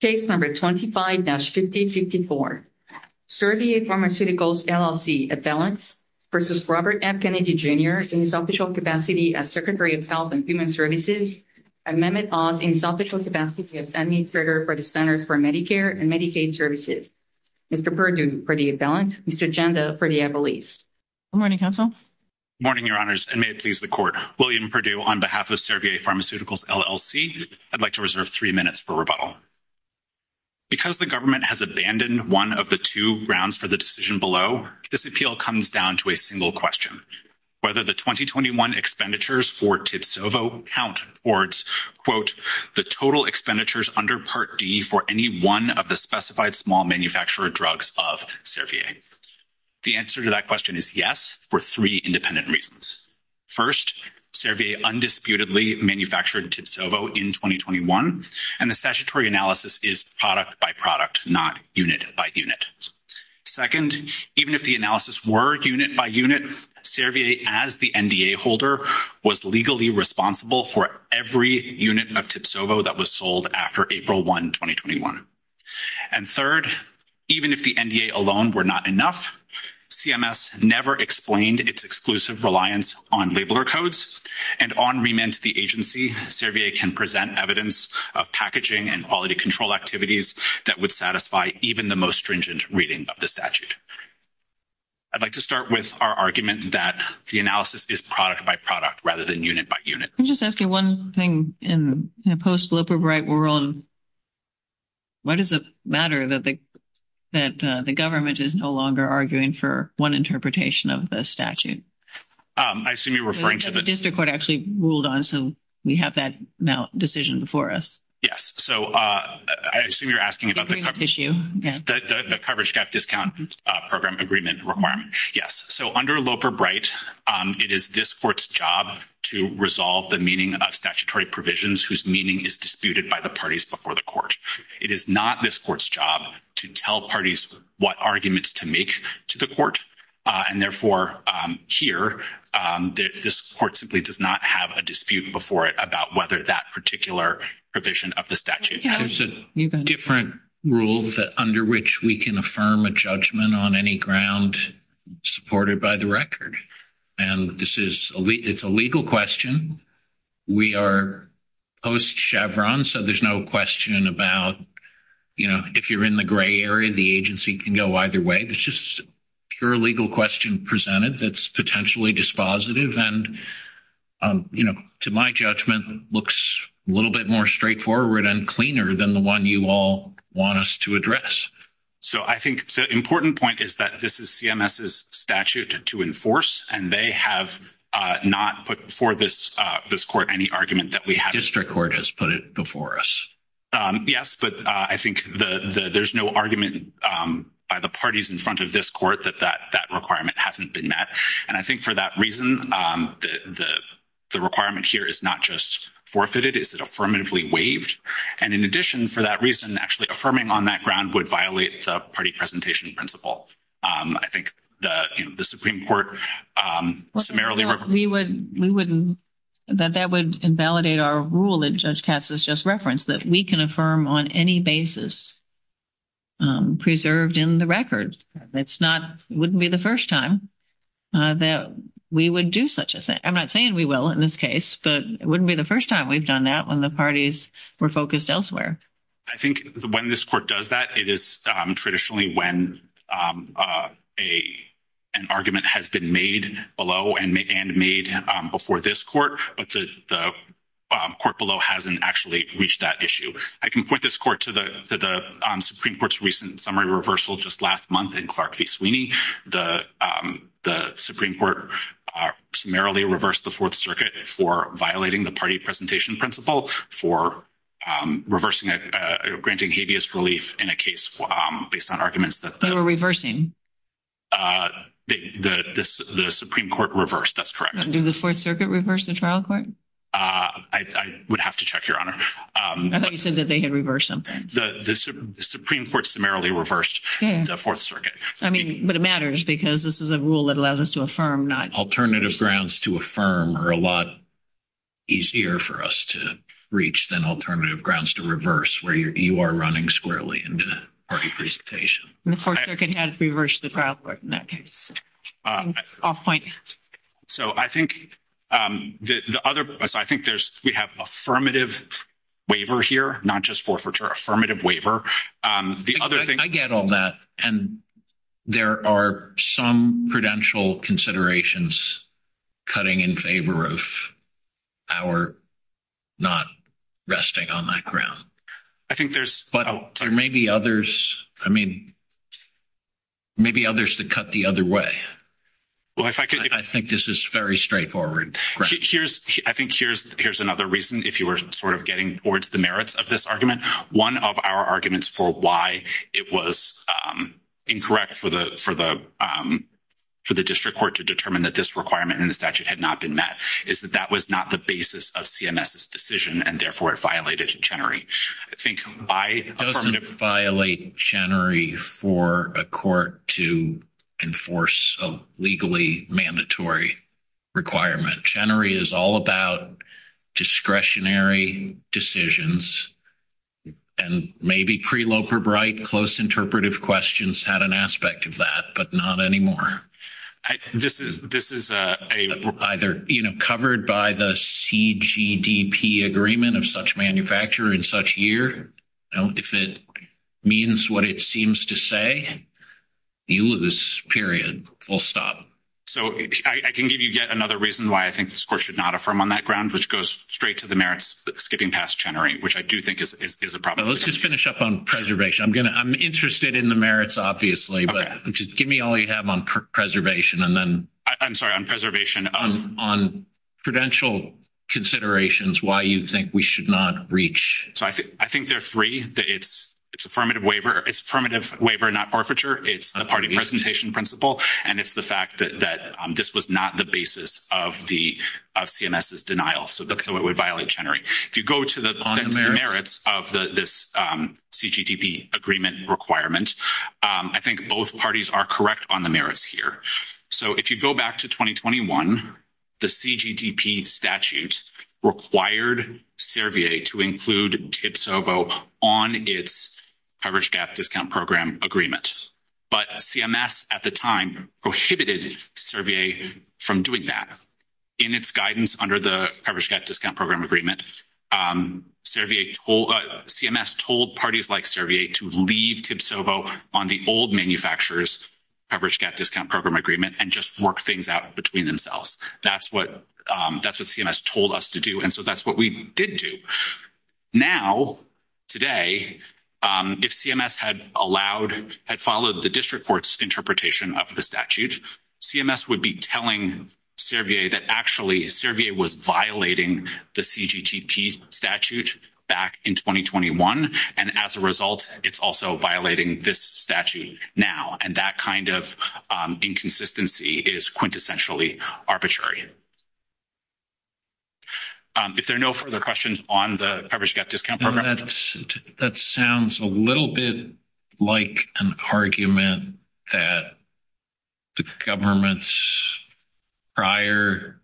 Case number 25-5054, Servier Pharmaceuticals LLC, at balance, v. Robert F. Kennedy, Jr., in his official capacity as Secretary of Health and Human Services, amendment of, in his official capacity as Secretary for the Centers for Medicare and Medicaid Services. Mr. Perdue, for the balance. Mr. Janda, for the release. Good morning, counsel. Morning, your honors, and may it please the court. William Perdue, on behalf of Servier Pharmaceuticals LLC, I'd like to reserve three minutes for rebuttal. Because the government has abandoned one of the two grounds for the decision below, this appeal comes down to a single question, whether the 2021 expenditures for TIPSOVO count towards, quote, the total expenditures under Part D for any one of the specified small manufacturer drugs of Servier. The answer to that question is yes, for three independent reasons. First, Servier undisputedly manufactured TIPSOVO in 2021, and the statutory analysis is product by product, not unit by unit. Second, even if the analysis were unit by unit, Servier, as the NDA holder, was legally responsible for every unit of TIPSOVO that was sold after April 1, 2021. And third, even if the NDA alone were not enough, CMS never explained its exclusive reliance on labeler codes. And on remand to the agency, Servier can present evidence of packaging and quality control activities that would satisfy even the most stringent reading of the statute. I'd like to start with our argument that the analysis is product by product, rather than unit by unit. I'm just asking one thing, in a post-liberal right world, why does it matter that the government is no longer arguing for one interpretation of the statute? I assume you're referring to the- The district court actually ruled on, so we have that now decision before us. Yes. So I assume you're asking about the- The agreement issue, yes. The coverage gap discount program agreement requirement. Yes. So under Loper-Bright, it is this court's job to resolve the meaning about statutory provisions whose meaning is disputed by the parties before the court. It is not this court's job to tell parties what arguments to make to the court. And therefore, here, this court simply does not have a dispute before it about whether that particular provision of the statute- There's a different rule under which we can affirm a judgment on any ground supported by the record. And this is a legal question. We are post-Chevron, so there's no question about if you're in the gray area, the agency can go either way. It's just pure legal question presented that's potentially dispositive and, to my judgment, looks a little bit more straightforward and cleaner than the one you all want us to address. So I think the important point is that this is CMS's statute to enforce, and they have not put before this court any argument that we have- The district court has put it before us. Yes, but I think there's no argument by the parties in front of this court that that requirement hasn't been met. And I think for that reason, the requirement here is not just forfeited, it's affirmatively waived. And in addition, for that reason, actually affirming on that ground would violate the party presentation principle. I think the Supreme Court summarily- We wouldn't- That would invalidate our rule that Judge Katz has just referenced, that we can affirm on any basis preserved in the record. It's not- It wouldn't be the first time that we would do such a thing. I'm not saying we will in this case, but it wouldn't be the first time we've done that when the parties were focused elsewhere. I think when this court does that, it is traditionally when an argument has been made below and made before this court, the court below hasn't actually reached that issue. I can point this court to the Supreme Court's recent summary reversal just last month in Clark v. Sweeney. The Supreme Court summarily reversed the Fourth Circuit for violating the party presentation principle, for reversing it, granting habeas relief in a case based on arguments that the- They were reversing. The Supreme Court reversed, that's correct. Did the Fourth Circuit reverse the trial court? I would have to check, Your Honor. I thought you said that they had reversed something. The Supreme Court summarily reversed the Fourth Circuit. I mean, but it matters because this is a rule that allows us to affirm not- Alternative grounds to affirm are a lot easier for us to reach than alternative grounds to reverse, where you are running squarely into the party presentation. The Fourth Circuit has reversed the trial court in that case. I'll point that out. So I think the other- I think there's- we have affirmative waiver here, not just forfeiture, affirmative waiver. The other thing- I get all that. And there are some prudential considerations cutting in favor of our not resting on that ground. I think there's- But there may be others. I mean, maybe others to cut the other way. Well, if I could- I think this is very straightforward. Here's- I think here's another reason, if you were sort of getting towards the merits of this argument. One of our arguments for why it was incorrect for the district court to determine that this requirement in the statute had not been met is that that was not the basis of CMS's decision, and therefore, it violated Chenery. I think by affirmative- It doesn't violate Chenery for a court to enforce a legally mandatory requirement. Chenery is all about discretionary decisions. And maybe pre-Loper-Bright, close interpretive questions had an aspect of that, but not anymore. This is either covered by the CGDP agreement of such manufacturer in such year. If it means what it seems to say, the Ulivis period will stop. So, I can give you yet another reason why I think this court should not affirm on that ground, which goes straight to the merits skipping past Chenery, which I do think is a problem. Let's just finish up on preservation. I'm interested in the merits, obviously, but just give me all you have on preservation and then- I'm sorry, on preservation. On prudential considerations, why do you think we should not reach? So, I think there are three. It's affirmative waiver. It's affirmative waiver, not arbitrary. It's a party presentation principle. And it's the fact that this was not the basis of CMS's denial, so it would violate Chenery. If you go to the merits of this CGDP agreement requirement, I think both parties are correct on the merits here. So, if you go back to 2021, the CGDP statute required Servier to include TIPSOVO on its coverage gap discount program agreement. But CMS, at the time, prohibited Servier from doing that. In its guidance under the coverage gap discount program agreement, Servier-CMS told parties like Servier to leave TIPSOVO on the old manufacturer's coverage gap discount program agreement and just work things out between themselves. That's what CMS told us to do, and so that's what we did do. Now, today, if CMS had allowed-had followed the district court's interpretation of the statute, CMS would be telling Servier that actually Servier was violating the CGDP statute back in 2021, and as a result, it's also violating this statute now. And that kind of inconsistency is quintessentially arbitrary. If there are no further questions on the coverage gap discount program- It sounds a little bit like an argument that the government's prior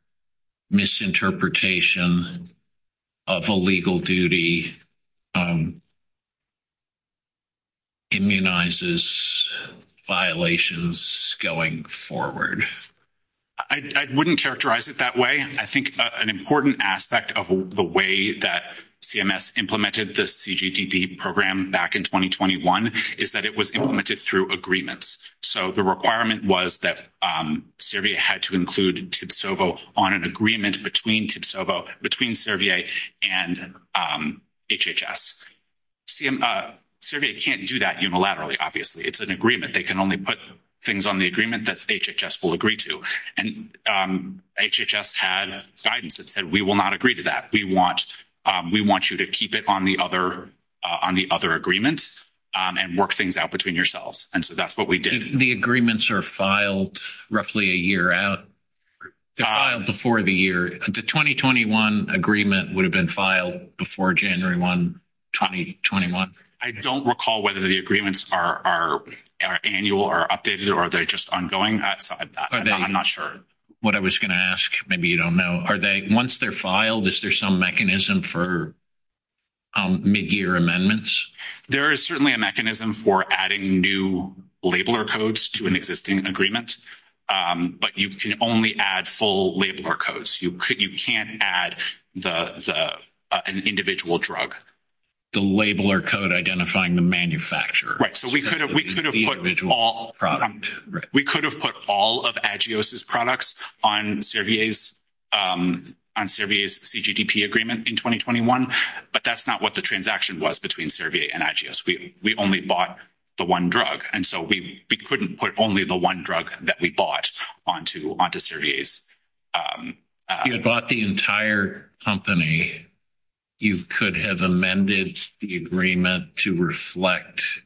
misinterpretation of a legal duty immunizes violations going forward. I wouldn't characterize it that way. I think an important aspect of the way that CMS implemented the CGDP program back in 2021 is that it was implemented through agreements. So the requirement was that Servier had to include TIPSOVO on an agreement between TIPSOVO-between Servier and HHS. Servier can't do that unilaterally, obviously. It's an agreement. They can only put things on the agreement that HHS will agree to, and HHS had guidance that said, we will not agree to that. We want you to keep it on the other agreements and work things out between yourselves. And so that's what we did. The agreements are filed roughly a year out. They're filed before the year. The 2021 agreement would have been filed before January 1, 2021. I don't recall whether the agreements are annual or updated, or are they just ongoing? I'm not sure. What I was going to ask, maybe you don't know, are they, once they're filed, is there some mechanism for mid-year amendments? There is certainly a mechanism for adding new labeler codes to an existing agreement, but you can only add full labeler codes. You can't add an individual drug. The labeler code identifying the manufacturer. We could have put all of AGIOS's products on Servier's CGTP agreement in 2021, but that's not what the transaction was between Servier and AGIOS. We only bought the one drug, and so we couldn't put only the one drug that we bought onto Servier's. You bought the entire company. You could have amended the agreement to reflect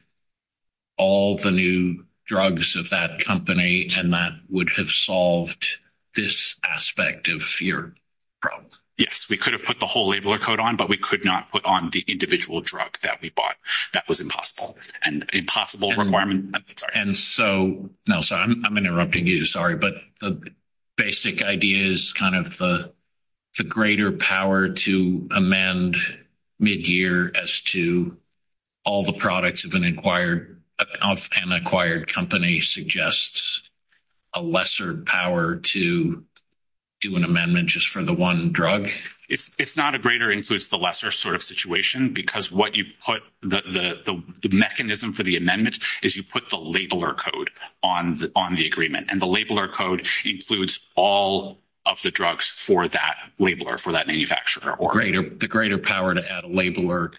all the new drugs of that company, and that would have solved this aspect of your problem. Yes, we could have put the whole labeler code on, but we could not put on the individual drug that we bought. That was impossible, and impossible requirement. No, sorry. I'm interrupting you. Sorry, but the basic idea is the greater power to amend mid-year as to all the products of an acquired company suggests a lesser power to do an amendment just for the one drug? It's not a greater-includes-the-lesser sort of situation, because the mechanism for the amendment is you put the labeler code on the agreement, and the labeler code includes all of the drugs for that labeler, for that labeler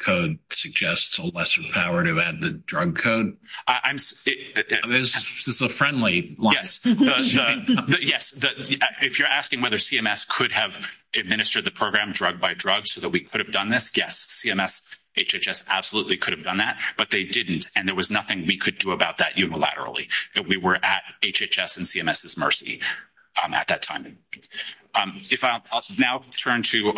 code suggests a lesser power to add the drug code? It's a friendly line. Yes. If you're asking whether CMS could have administered the program drug by drug so that we could have done this, yes, CMS, HHS absolutely could have done that, but they didn't, and there was nothing we could do about that unilaterally, that we were at HHS and CMS's mercy at that time. If I now turn to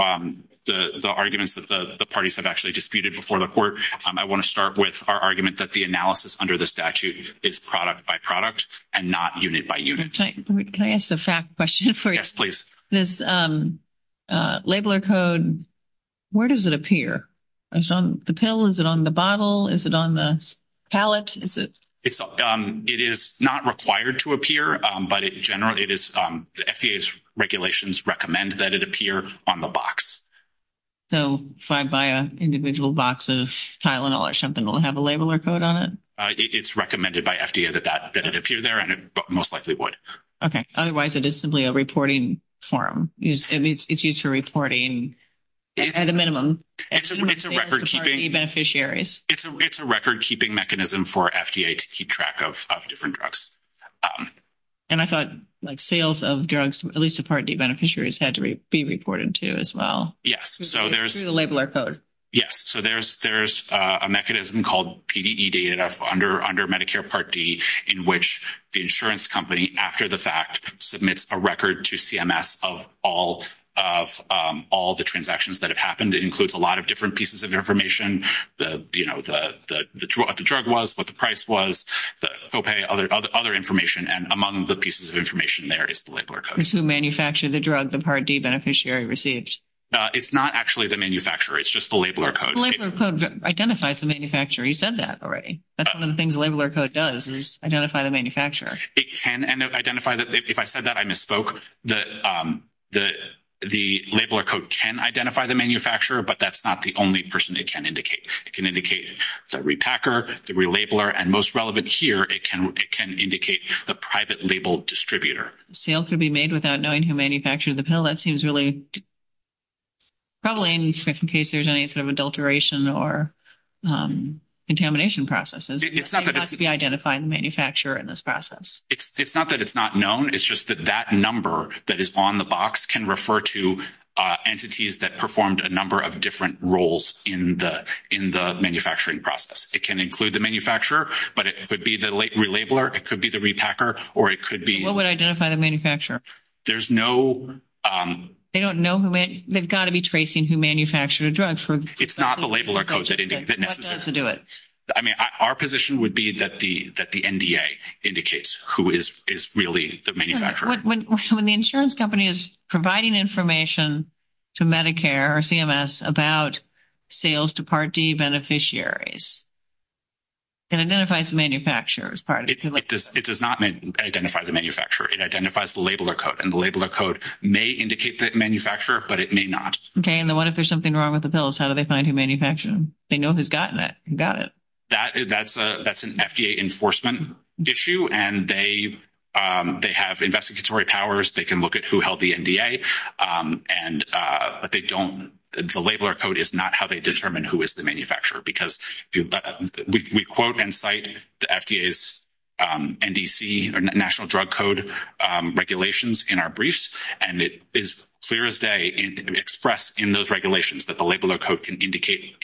the arguments that the parties have actually disputed before the court, I want to start with our argument that the analysis under the statute is product by product and not unit by unit. Can I ask a fact question for you? Yes, please. This labeler code, where does it appear? Is it on the pill? Is it on the bottle? Is it on the palette? It is not required to appear, but in general, the FDA's regulations recommend that it appear on the box. So if I buy an individual box of Tylenol or something, it will have a labeler code on it? It's recommended by FDA that it appear there, and it most likely would. Okay. Otherwise, it is simply a reporting form. It's used for reporting at a minimum. It's a record-keeping mechanism for FDA to keep track of different drugs. And I thought, like, sales of drugs, at least to Part D beneficiaries, had to be reported to as well? Yes. Through the labeler code. Yes. So there's a mechanism called PDE-DNF under Medicare Part D in which the insurance company, after the fact, submits a record to CMS of all the transactions that have happened. It includes a lot of different pieces of information, you know, what the drug was, what the price was, the copay, other information. And among the pieces of information there is the labeler code. It's who manufactured the drug the Part D beneficiary received. It's not actually the manufacturer. It's just the labeler code. The labeler code identifies the manufacturer. You said that already. That's one of the things the labeler code does is identify the manufacturer. It can. And if I said that, I misspoke. The labeler code can identify the manufacturer, but that's not the only person it can indicate. It can indicate the repacker, the relabeler, and most relevant here, it can indicate the private label distributor. Sales can be made without knowing who manufactured the pill. That seems really troubling in case there's any sort of adulteration or contamination processes. It's not that it's not known. It's just that that on the box can refer to entities that performed a number of different roles in the manufacturing process. It can include the manufacturer, but it could be the relabeler, it could be the repacker, or it could be. What would identify the manufacturer? There's no. They don't know. They've got to be tracing who manufactured the drugs. It's not the labeler code. I mean, our position would be that the NDA indicates who is really the manufacturer. When the insurance company is providing information to Medicare or CMS about sales to Part D beneficiaries, it identifies the manufacturer as Part D. It does not identify the manufacturer. It identifies the labeler code, and the labeler code may indicate the manufacturer, but it may not. Okay, and then what if there's something wrong with the pills? How do they find who manufactured them? They know who's gotten it. That's an FDA enforcement issue, and they have investigatory powers. They can look at who held the NDA, but they don't. The labeler code is not how they determine who is the manufacturer, because we quote and cite the FDA's NDC or National Drug Code regulations in our briefs, and it is clear as day expressed in those regulations that the labeler code can indicate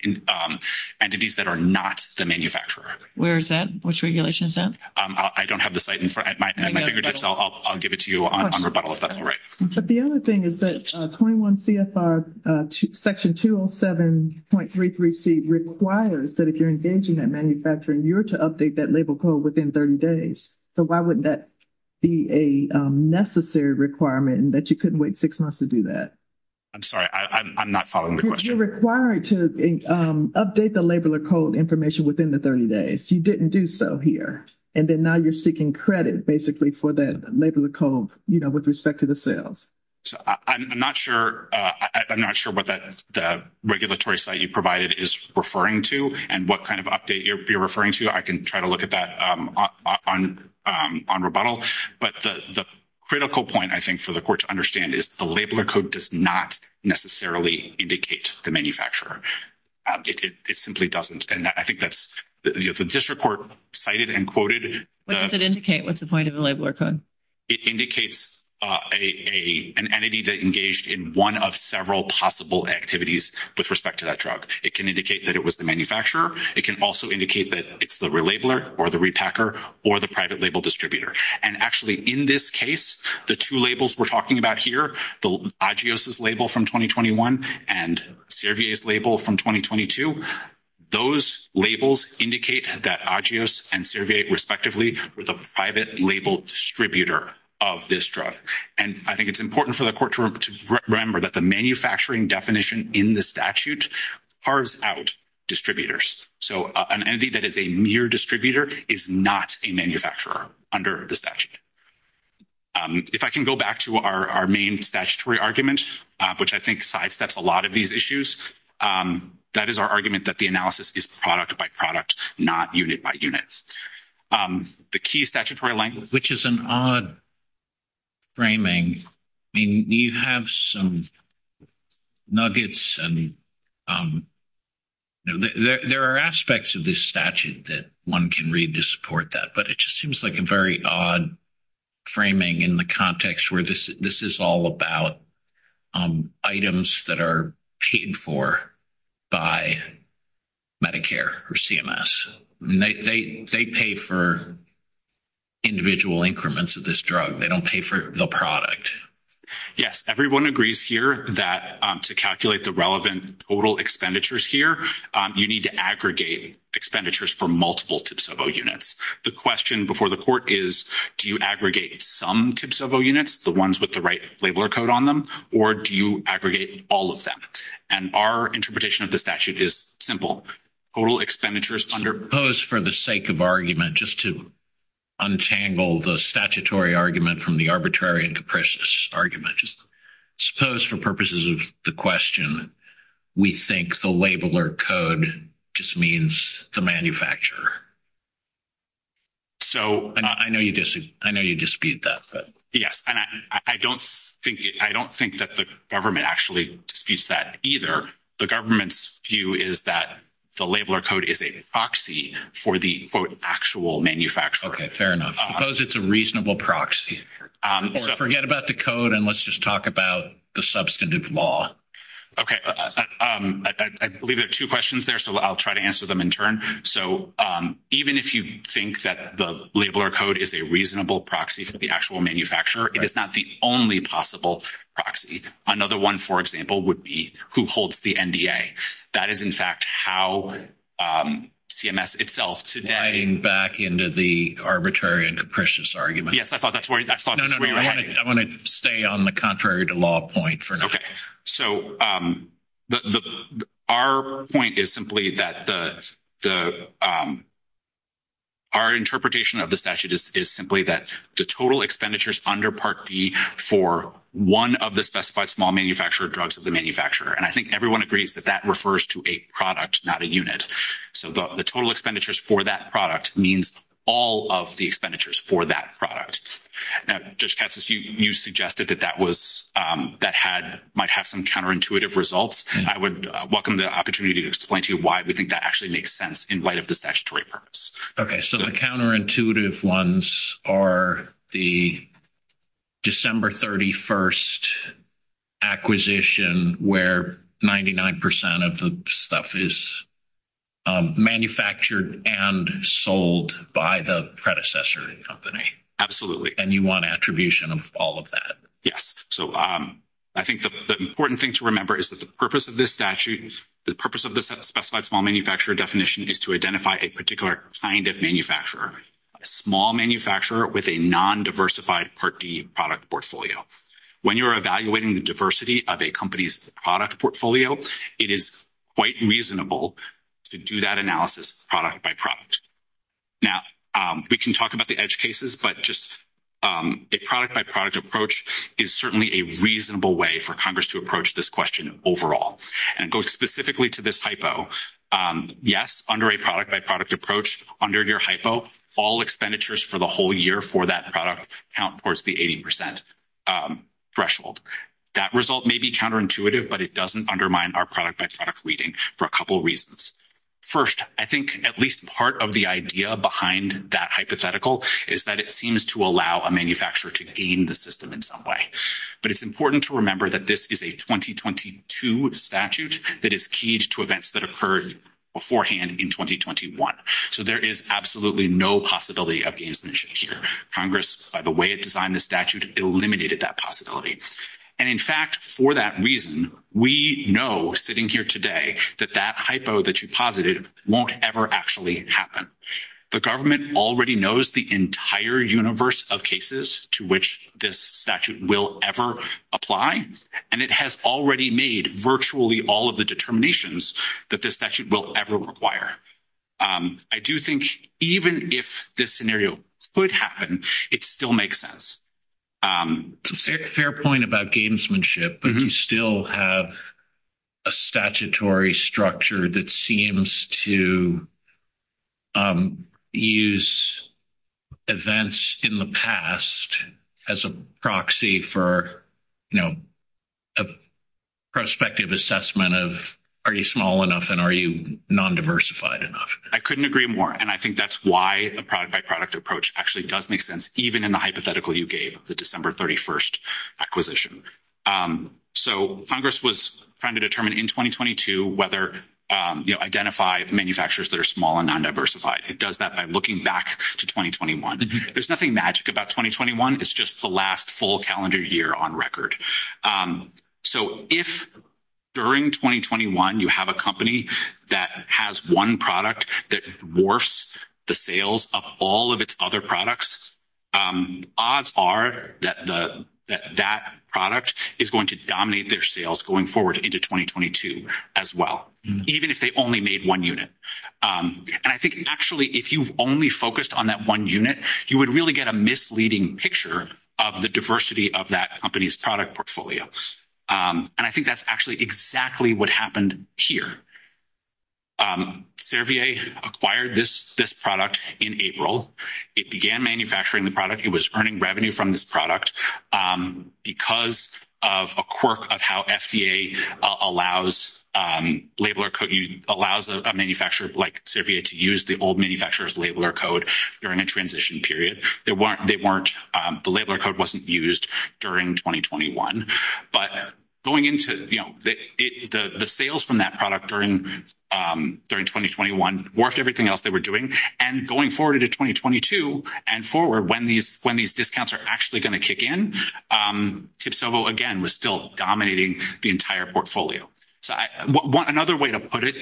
entities that are not the manufacturer. Where is that? Which regulation is that? I don't have the site in front of me. I'll give it to you on rebuttal if that's all right. But the other thing is that 21 CFR Section 207.33C requires that if you're engaging in manufacturing, you're to update that labeler code within 30 days. So why wouldn't that be a necessary requirement that you couldn't wait six months to do that? I'm sorry. I'm not following your question. You're required to update the labeler code information within the 30 days. You didn't do so here, and then now you're seeking credit, basically, for that labeler code, you know, with respect to the sales. I'm not sure what the regulatory site you provided is referring to and what kind of update you're referring to. I can try to look at that on rebuttal. But the critical point, I think, for the Court to understand is the labeler code does not necessarily indicate the manufacturer. It simply doesn't. And I think that's, you know, the district court cited and quoted. What does it indicate? What's the point of the labeler code? It indicates an entity that engaged in one of several possible activities with respect to that drug. It can indicate that it was the manufacturer. It can also indicate that it's the labeler or the repacker or the private label distributor. And actually, in this case, the two labels we're talking about here, the AGIOS's label from 2021 and Cervier's label from 2022, those labels indicate that AGIOS and Cervier, respectively, were the private label distributor of this drug. And I think it's important for the Court to remember that the manufacturing definition in the statute carves out distributors. So an entity that is a mere distributor is not a manufacturer under the statute. If I can go back to our main statutory argument, which I think sidesteps a lot of these issues, that is our argument that the analysis is product by product, not unit by unit. The key statutory language... Which is an odd framing. I mean, you have some nuggets and there are aspects of this statute that one can read to support that. But it just seems like a very odd framing in the context where this is all about items that are paid for by Medicare or CMS. They pay for individual increments of this drug. They don't pay for the product. Yes. Everyone agrees here that to calculate the relevant total expenditures here, you need to aggregate expenditures for multiple TPSO units. The question before the Court is, do you aggregate some TPSO units, the ones with the right labeler code on them, or do you aggregate all of them? And our interpretation of the statute is simple. Total expenditures under... I suppose for the sake of argument, just to untangle the statutory argument from the arbitrary and capricious argument, suppose for purposes of the question, we think the labeler code just means the manufacturer. So... And I know you dispute that. Yes. And I don't think that the government actually disputes that either. The government's view is that the labeler code is a proxy for the, quote, actual manufacturer. Okay. Fair enough. Suppose it's a reasonable proxy. Forget about the code and let's just talk about the substantive law. Okay. I believe there are two questions there, so I'll try to answer them in turn. So even if you think that the labeler code is a reasonable proxy for the actual manufacturer, it is not the only possible proxy. Another one, for example, would be who holds the NDA. That is, in fact, how CMS itself today... Diving back into the arbitrary and capricious argument. No, no, no. I want to stay on the contrary to law point for now. Okay. So our point is simply that the... Our interpretation of the statute is simply that the total expenditures under Part B for one of the specified small manufacturer drugs of the manufacturer, and I think everyone agrees that that refers to a product, not a unit. So the total expenditures for that product means all of the expenditures for that product. Now, Judge Katsas, you suggested that that might have some counterintuitive results. I would welcome the opportunity to explain to you why we think that actually makes sense in light of the statutory purpose. Okay. So the counterintuitive ones are the December 31 acquisition where 99% of the stuff is manufactured and sold by the predecessor company. Absolutely. And you want attribution of all of that. Yes. So I think the important thing to remember is that the purpose of this statute, the purpose of the specified small manufacturer definition is to identify a particular kind of manufacturer, a small manufacturer with a non-diversified Part B product portfolio. When you're evaluating the diversity of a company's product portfolio, it is quite reasonable to do that analysis product by product. Now, we can talk about the edge cases, but just a product by product approach is certainly a reasonable way for Congress to approach this question overall. And it goes specifically to this hypo. Yes, under a product by product approach, under your hypo, all expenditures for the whole year for that product count towards the 80% threshold. That result may be counterintuitive, but it doesn't undermine our product by product reading for a couple reasons. First, I think at least part of the idea behind that hypothetical is that it seems to allow a manufacturer to gain the system in some way. But it's important to remember that this is a 2022 statute that is keyed to events that occurred beforehand in 2021. So, there is absolutely no possibility of gainsmanship here. Congress, by the way it designed the statute, eliminated that possibility. And in fact, for that reason, we know sitting here today that that hypo that you posited won't ever actually happen. The government already knows the entire universe of cases to which this statute will ever apply. And it has already made virtually all of the determinations that this statute will ever require. I do think even if this scenario could happen, it still makes sense. Fair point about gainsmanship. You still have a statutory structure that seems to use events in the past as a proxy for, you know, a prospective assessment of are you small enough and are you non-diversified enough? I couldn't agree more. And I think that's why the product by product approach actually does even in the hypothetical you gave of the December 31st acquisition. So, Congress was trying to determine in 2022 whether, you know, identify the manufacturers that are small and non-diversified. It does that by looking back to 2021. There's nothing magic about 2021. It's just the last full calendar year on record. So, if during 2021 you have a company that has one product that the sales of all of its other products, odds are that that product is going to dominate their sales going forward into 2022 as well, even if they only made one unit. And I think actually if you've only focused on that one unit, you would really get a misleading picture of the diversity of that company's product portfolio. And I think that's actually exactly what happened here. Servier acquired this product in April. It began manufacturing the product. It was earning revenue from this product because of a quirk of how FDA allows a manufacturer like Servier to use the old manufacturer's labeler code during a transition period. The labeler code wasn't used during 2021. But going into, you know, the sales from that product during 2021 worked everything else they were doing. And going forward into 2022 and forward when these discounts are actually going to kick in, TIPSOVO again was still dominating the entire portfolio. So, another way to put it,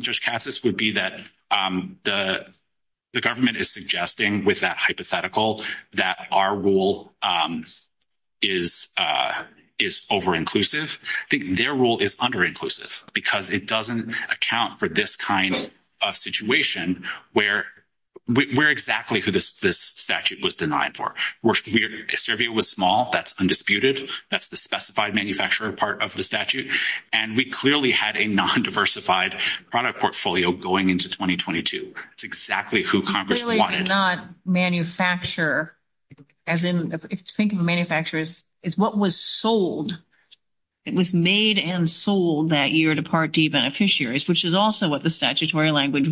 Judge Cassis, would be that the government is suggesting with that hypothetical that our rule is over-inclusive. I think their rule is under-inclusive because it doesn't account for this kind of situation where we're exactly who this statute was denied for. Servier was small. That's undisputed. That's the specified manufacturer part of the statute. And we clearly had a non-diversified product portfolio going into 2022. That's exactly who we had. We clearly did not manufacture, as in, think of manufacturers as what was sold. It was made and sold that year to Part D beneficiaries, which is also what the statutory language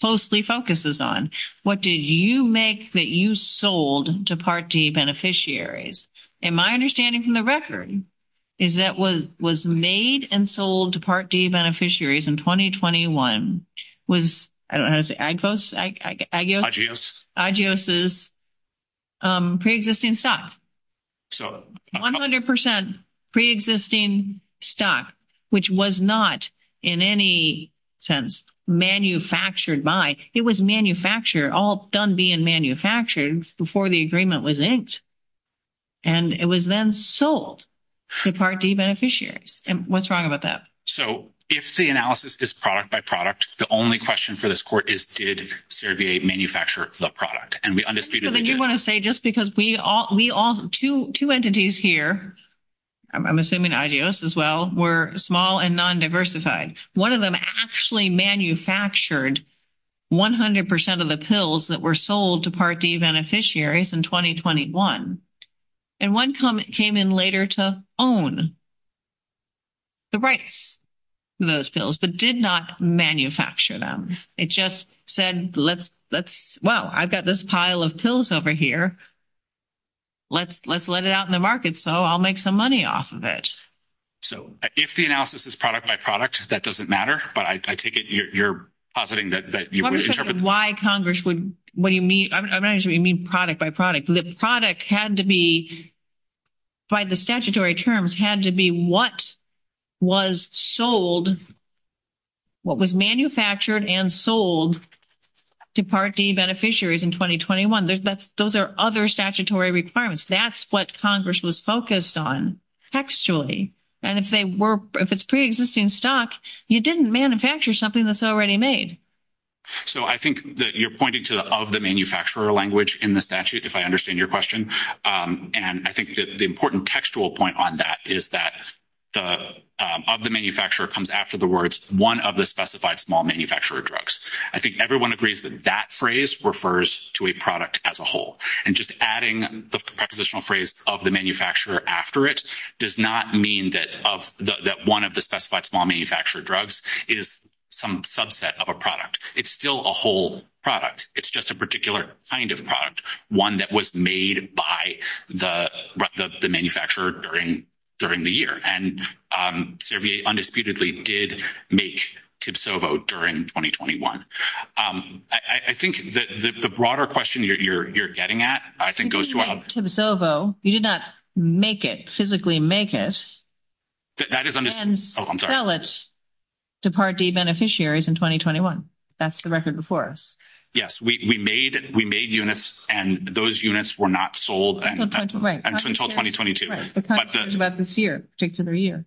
closely focuses on. What did you make that you sold to Part D beneficiaries? And my understanding from the record is that what was made and sold to Part D beneficiaries in 2021 was, I don't know how to say, IGEOS's pre-existing stock. 100% pre-existing stock, which was not in any sense manufactured by. It was manufactured, all done being manufactured before the agreement was inked. And it was then sold to Part D beneficiaries. What's wrong about that? So, if the analysis is product by product, the only question for this court is did Servier manufacture the product? And we undisputedly did. You want to say just because we all, two entities here, I'm assuming IGEOS as well, were small and non-diversified. One of them actually manufactured 100% of the pills that were sold to Part D beneficiaries in 2021. And one came in later to own the rights to those pills, but did not manufacture them. It just said, well, I've got this pile of pills over here. Let's let it out in the market so I'll make some money off of it. So, if the analysis is product by product, that doesn't matter. I take it you're positing that you would interpret. Why Congress would, what do you mean? I'm not sure you mean product by product. The product had to be, by the statutory terms, had to be what was sold, what was manufactured and sold to Part D beneficiaries in 2021. Those are other statutory requirements. That's what Congress was focused on actually. And if they were, if it's pre-existing stock, you didn't manufacture something that's already made. So, I think that you're pointing to the manufacturer language in the statute, if I understand your question. And I think that the important textual point on that is that of the manufacturer comes after the words, one of the specified small manufacturer drugs. I think everyone agrees that that phrase refers to a product as a whole. And just adding the prepositional phrase of the manufacturer after it does not mean that one of the specified small manufacturer drugs is some subset of a product. It's still a whole product. It's just a particular kind of product, one that was made by the manufacturer during the year. And Servier undisputedly did make Tibsovo during 2021. I think that the broader question you're getting at, I think, goes to- You didn't make Tibsovo. You did not make it, physically make it. That is- Oh, I'm sorry. Well, it's Departee Beneficiaries in 2021. That's the record before us. Yes. We made units, and those units were not sold until 2022. Right. It's not until about this year, particular year.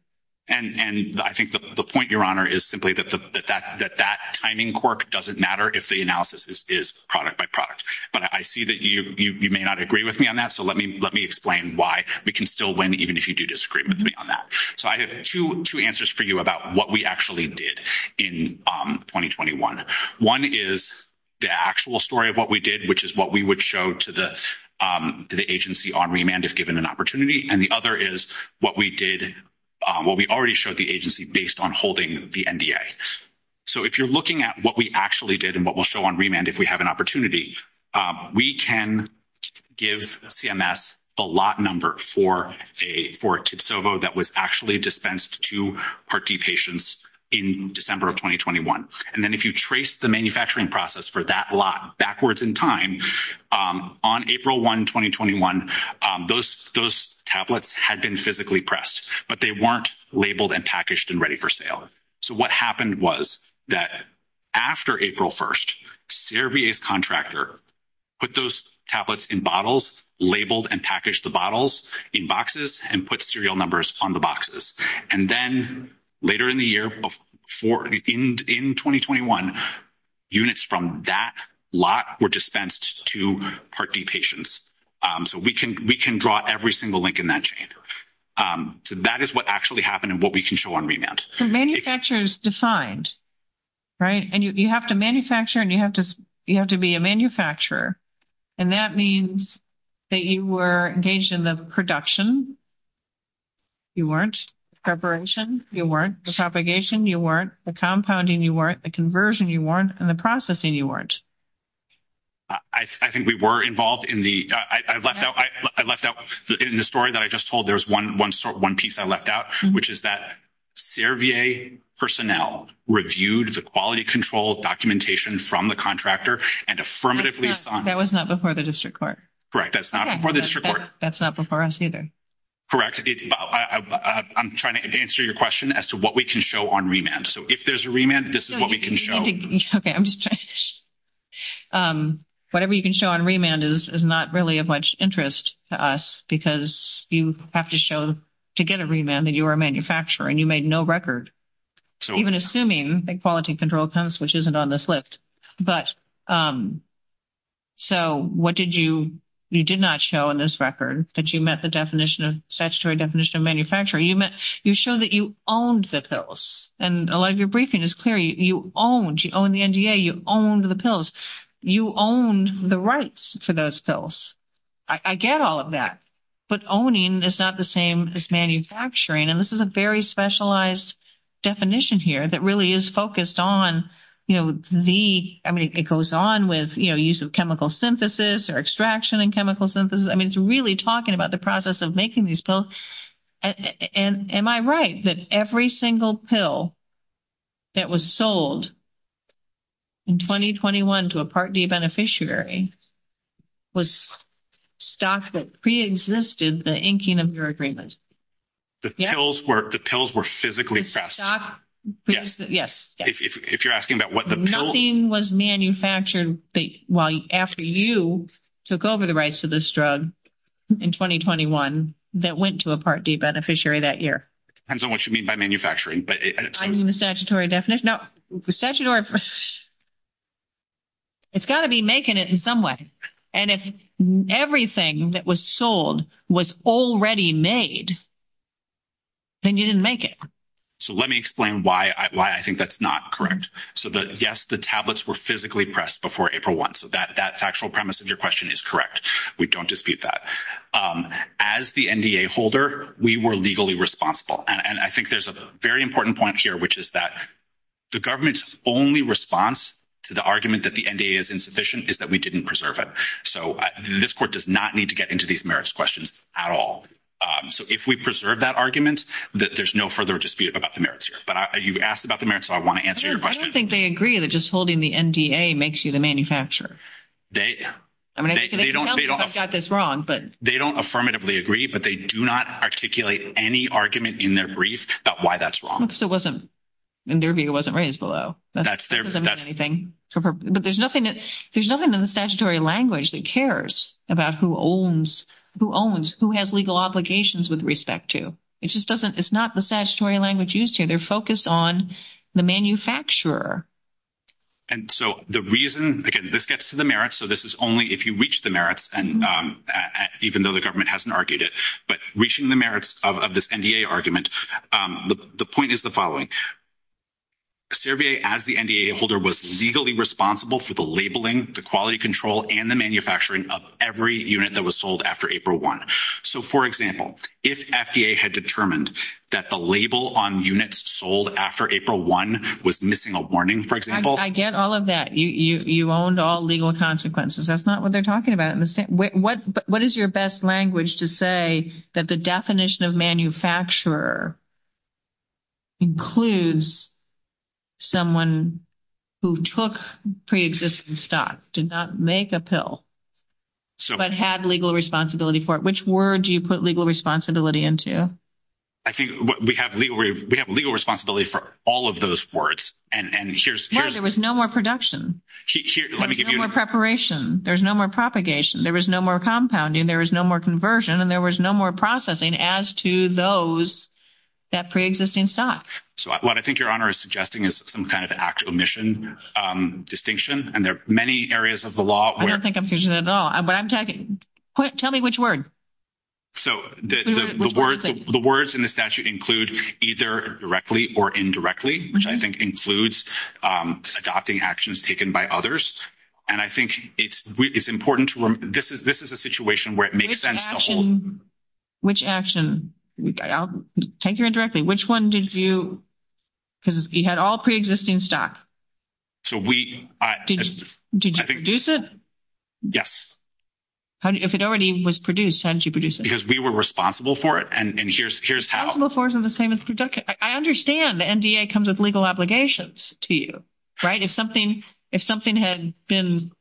And I think the point, Your Honor, is simply that that timing cork doesn't matter if the analysis is product by product. But I see that you may not agree with me on that. So, let me explain why we can still win even if you do disagree with me on that. So, I have two answers for you about what we actually did in 2021. One is the actual story of what we did, which is what we would show to the agency on remand if given an opportunity. And the other is what we already showed the agency based on holding the NDA. So, if you're looking at what we actually did and what we'll on remand if we have an opportunity, we can give CMS a lot number for a tipsovo that was actually dispensed to heart D patients in December of 2021. And then if you trace the manufacturing process for that lot backwards in time, on April 1, 2021, those tablets had been physically pressed, but they weren't labeled and packaged and ready for sale. So, what happened was that after April 1, CRVA's contractor put those tablets in bottles, labeled and packaged the bottles in boxes, and put serial numbers on the boxes. And then later in the year, in 2021, units from that lot were dispensed to heart D patients. So, we can draw every single link in that chain. So, that is what actually happened and what we can show on remand. Manufacture is defined, right? And you have to manufacture and you have to be a manufacturer. And that means that you were engaged in the production. You weren't. Preparation, you weren't. The propagation, you weren't. The compounding, you weren't. The conversion, you weren't. And the processing, you weren't. I think we were involved in the, I left out in the story that I just told, there's one piece I left out, which is that CRVA personnel reviewed the quality control documentation from the contractor and affirmatively. That was not before the district court. Correct. That's not before the district court. That's not before us either. Correct. I'm trying to answer your question as to what we can show on remand. So, if there's a remand, this is what we can show. Okay. I'm just trying to. Whatever you can show on remand is not really of much interest to us because you have to show to get a remand that you were a manufacturer and you made no record. Even assuming the quality control comes, which isn't on this list. So, what did you, you did not show on this record that you met the statutory definition of manufacturer. You showed that you owned the pills. And a lot of your briefing is clear, you owned, you owned the NDA, you owned the pills, you owned the rights to those pills. I get all of that, but owning is not the same as manufacturing. And this is a very specialized definition here that really is focused on, you know, the, I mean, it goes on with, you know, use of chemical synthesis or extraction and chemical synthesis. I mean, it's really talking about the process of making these pills. And am I right that every single pill that was sold in 2021 to a Part D beneficiary was stock that pre-existed the inking of your agreement? The pills were, the pills were physically fast. Yes. If you're asking about what the pill. Was manufactured while after you took over the rights to this drug in 2021, that went to a Part D beneficiary that year. Depends on what you mean by manufacturing, but. The statutory definition, the statutory, it's got to be making it in some way. And if everything that was sold was already made, then you didn't make it. So, let me explain why I think that's not correct. So, yes, the tablets were physically pressed before April 1. So, that factual premise of your question is correct. We don't dispute that. As the NDA holder, we were legally responsible. And I think there's a very important point here, which is that the government's only response to the argument that the NDA is insufficient is that we didn't preserve it. So, this court does not need to get into these merits questions at all. So, if we preserve that argument, there's no further dispute about the merits here, but you've asked about the merits. So, I want to answer your question. I don't think they agree that just holding the NDA makes you the manufacturer. They don't affirmatively agree, but they do not articulate any argument in their brief about why that's wrong. And their view wasn't raised below. But there's nothing that there's nothing in the statutory language that cares about who owns, who has legal obligations with respect to. It just doesn't. It's not the statutory language used here. They're focused on the manufacturer. And so, the reason, again, this gets to the merits. So, this is only if you reach the merits, even though the government hasn't argued it. But reaching the merits of this NDA argument, the point is the following. Cervier, as the NDA holder, was legally responsible for the labeling, the quality control, and the manufacturing of every unit that was sold after April 1. So, for example, if FDA had determined that the label on units sold after April 1 was missing a warning, for example. I get all of that. You owned all legal consequences. That's not what they're talking about. What is your best language to say that the definition of manufacturer includes someone who took pre-existing stock, did not make a pill, but had legal responsibility for it? Which word do you put legal responsibility into? I think we have legal responsibility for all of those words. Well, there was no more production. There was no more preparation. There was no more propagation. There was no more compounding. There was no more conversion. And there was no more processing as to those that pre-existing stock. So, what I think your Honor is suggesting is some kind of actual mission distinction. And there are many areas of the law where- I don't think I'm finishing the law. But I'm talking- tell me which word. So, the words in the statute include either directly or indirectly, which I think includes adopting actions taken by others. And I think it's important to- this is a situation where it makes sense to hold- Which action? I'll take it directly. Which one did you- because you had all pre-existing stock. So, we- Did you produce it? Yes. If it already was produced, how did you produce it? Because we were responsible for it. And here's how- I understand the NDA comes with legal obligations to you, right? If something had been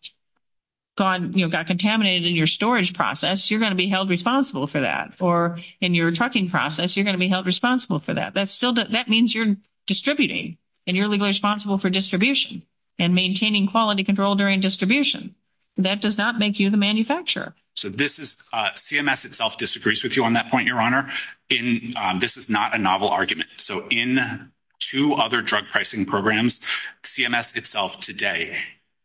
gone- you know, got contaminated in your storage process, you're going to be held responsible for that. Or in your trucking process, you're going to be held responsible for that. That means you're distributing and you're legally responsible for distribution and maintaining quality control during distribution. That does not make you the manufacturer. So, this is- CMS itself disagrees with you on that point, Your Honor. In- this is not a novel argument. So, in two other drug pricing programs, CMS itself today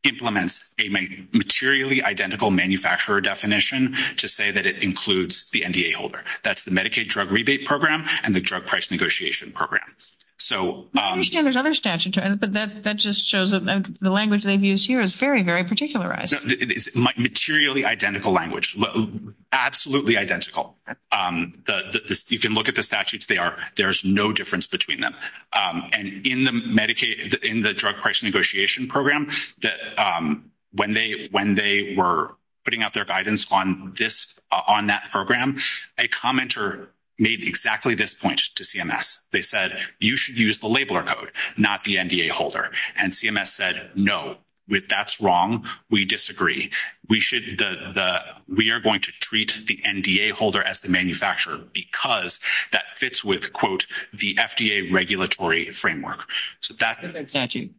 implements a materially identical manufacturer definition to say that it includes the NDA holder. That's the Medicaid Drug Rebate Program and the Drug Price Negotiation Program. So- I understand there's other statutes, but that just shows that the language that is used here is very, very particularized. Materially identical language. Absolutely identical. You can look at the statutes, they are- there's no difference between them. And in the Medicaid- in the Drug Price Negotiation Program, when they were putting out their guidance on this- on that program, a commenter made exactly this point to CMS. They said, you should use the labeler code, not the NDA holder. And CMS said, no, that's wrong. We disagree. We should- the- we are going to treat the NDA holder as the manufacturer because that fits with, quote, the FDA regulatory framework. So, that's- Is that a statute?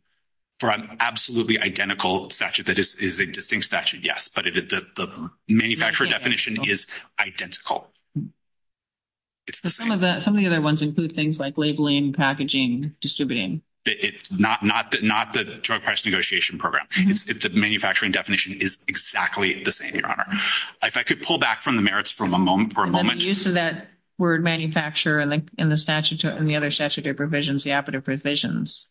For an absolutely identical statute. That is a distinct statute, yes. But the manufacturer definition is identical. Some of that- some of the other ones include things like labeling, packaging, distributing. It's not- not the Drug Price Negotiation Program. The manufacturing definition is exactly the same, Your Honor. If I could pull back from the merits for a moment- And the use of that word, manufacturer, in the statute- in the other statutory provisions, the APITA provisions.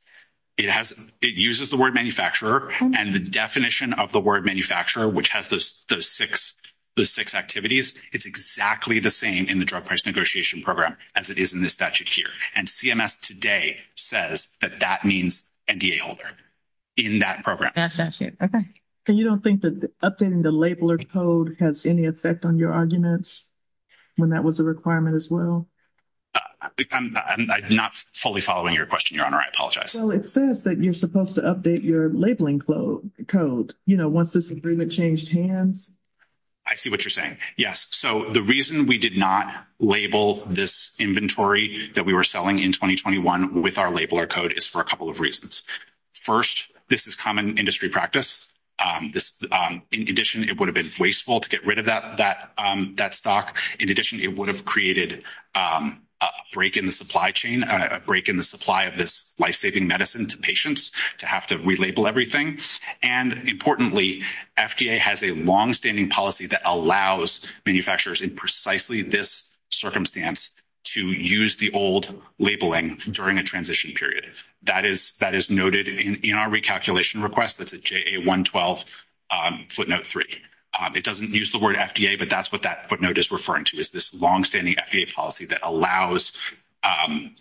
It has- it uses the word, manufacturer. And the definition of the word, manufacturer, which has those six- those six activities, is exactly the same in the Drug Price Negotiation Program as it is in the statute here. And CMS, today, says that that means NDA holder in that program. That's it. Okay. So, you don't think that updating the labeler code has any effect on your arguments when that was a requirement as well? I'm not fully following your question, Your Honor. I apologize. So, it says that you're supposed to update your labeling code, you know, once this agreement changed hands. I see what you're saying. Yes. So, the reason we did not label this inventory that we were selling in 2021 with our labeler code is for a couple of reasons. First, this is common industry practice. In addition, it would have been wasteful to get rid of that stock. In addition, it would have created a break in the supply chain, a break in the supply of this life-saving medicine to patients to have to relabel everything. And importantly, FDA has a long-standing policy that allows manufacturers in precisely this circumstance to use the old labeling during a transition period. That is noted in our recalculation request with the JA 112 footnote 3. It doesn't use the word FDA, but that's what that footnote is referring to, is this long-standing FDA policy that allows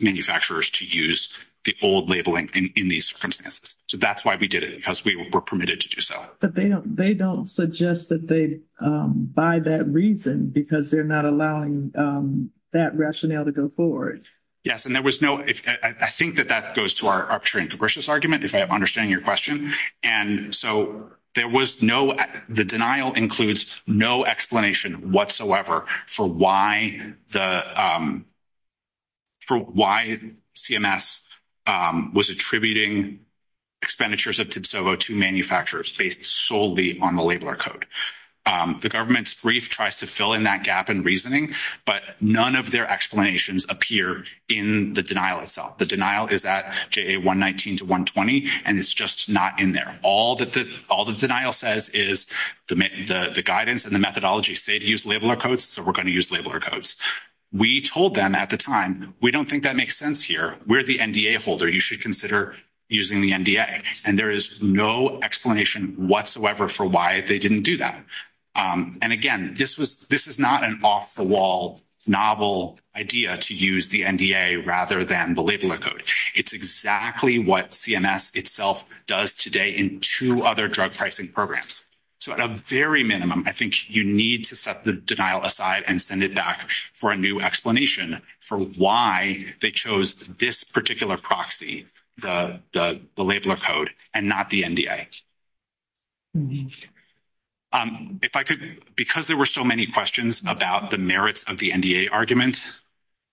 manufacturers to use the old labeling in these circumstances. So, that's why we did it, because we were permitted to do so. But they don't suggest that they buy that reason, because they're not allowing that rationale to go forward. Yes, and there was no—I think that that goes to our arbitrary and capricious argument, if I understand your question. And so, there was no—the denial includes no explanation whatsoever for why CMS was attributing expenditures at TIBSOVO to manufacturers based solely on the labeler code. The government's brief tries to fill in that gap in reasoning, but none of their explanations appear in the denial itself. The denial is at JA 119 to 120, and it's just not in there. All that the denial says is the guidance and the methodology say to use labeler codes, so we're going to use labeler codes. We told them at the time, we don't think that makes sense here. We're the NDA holder. You should consider using the NDA. And there is no explanation whatsoever for why they didn't do that. And again, this was—this is not an off-the-wall novel idea to use the NDA rather than the labeler code. It's exactly what CMS itself does today in two other drug pricing programs. So, at a very minimum, I think you need to set the denial aside and send it back for a new explanation for why they chose this particular proxy, the labeler code, and not the NDA. If I could—because there were so many questions about the merits of the NDA argument,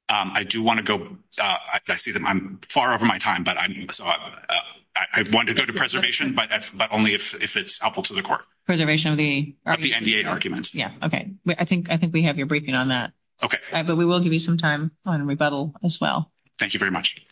I do want to go—I see that I'm far over my time, but I want to go to preservation, but only if it's helpful to the court. Preservation of the argument. Of the NDA argument. Yes. Okay. I think we have your briefing on that. Okay. But we will give you some time on rebuttal as well. Thank you very much.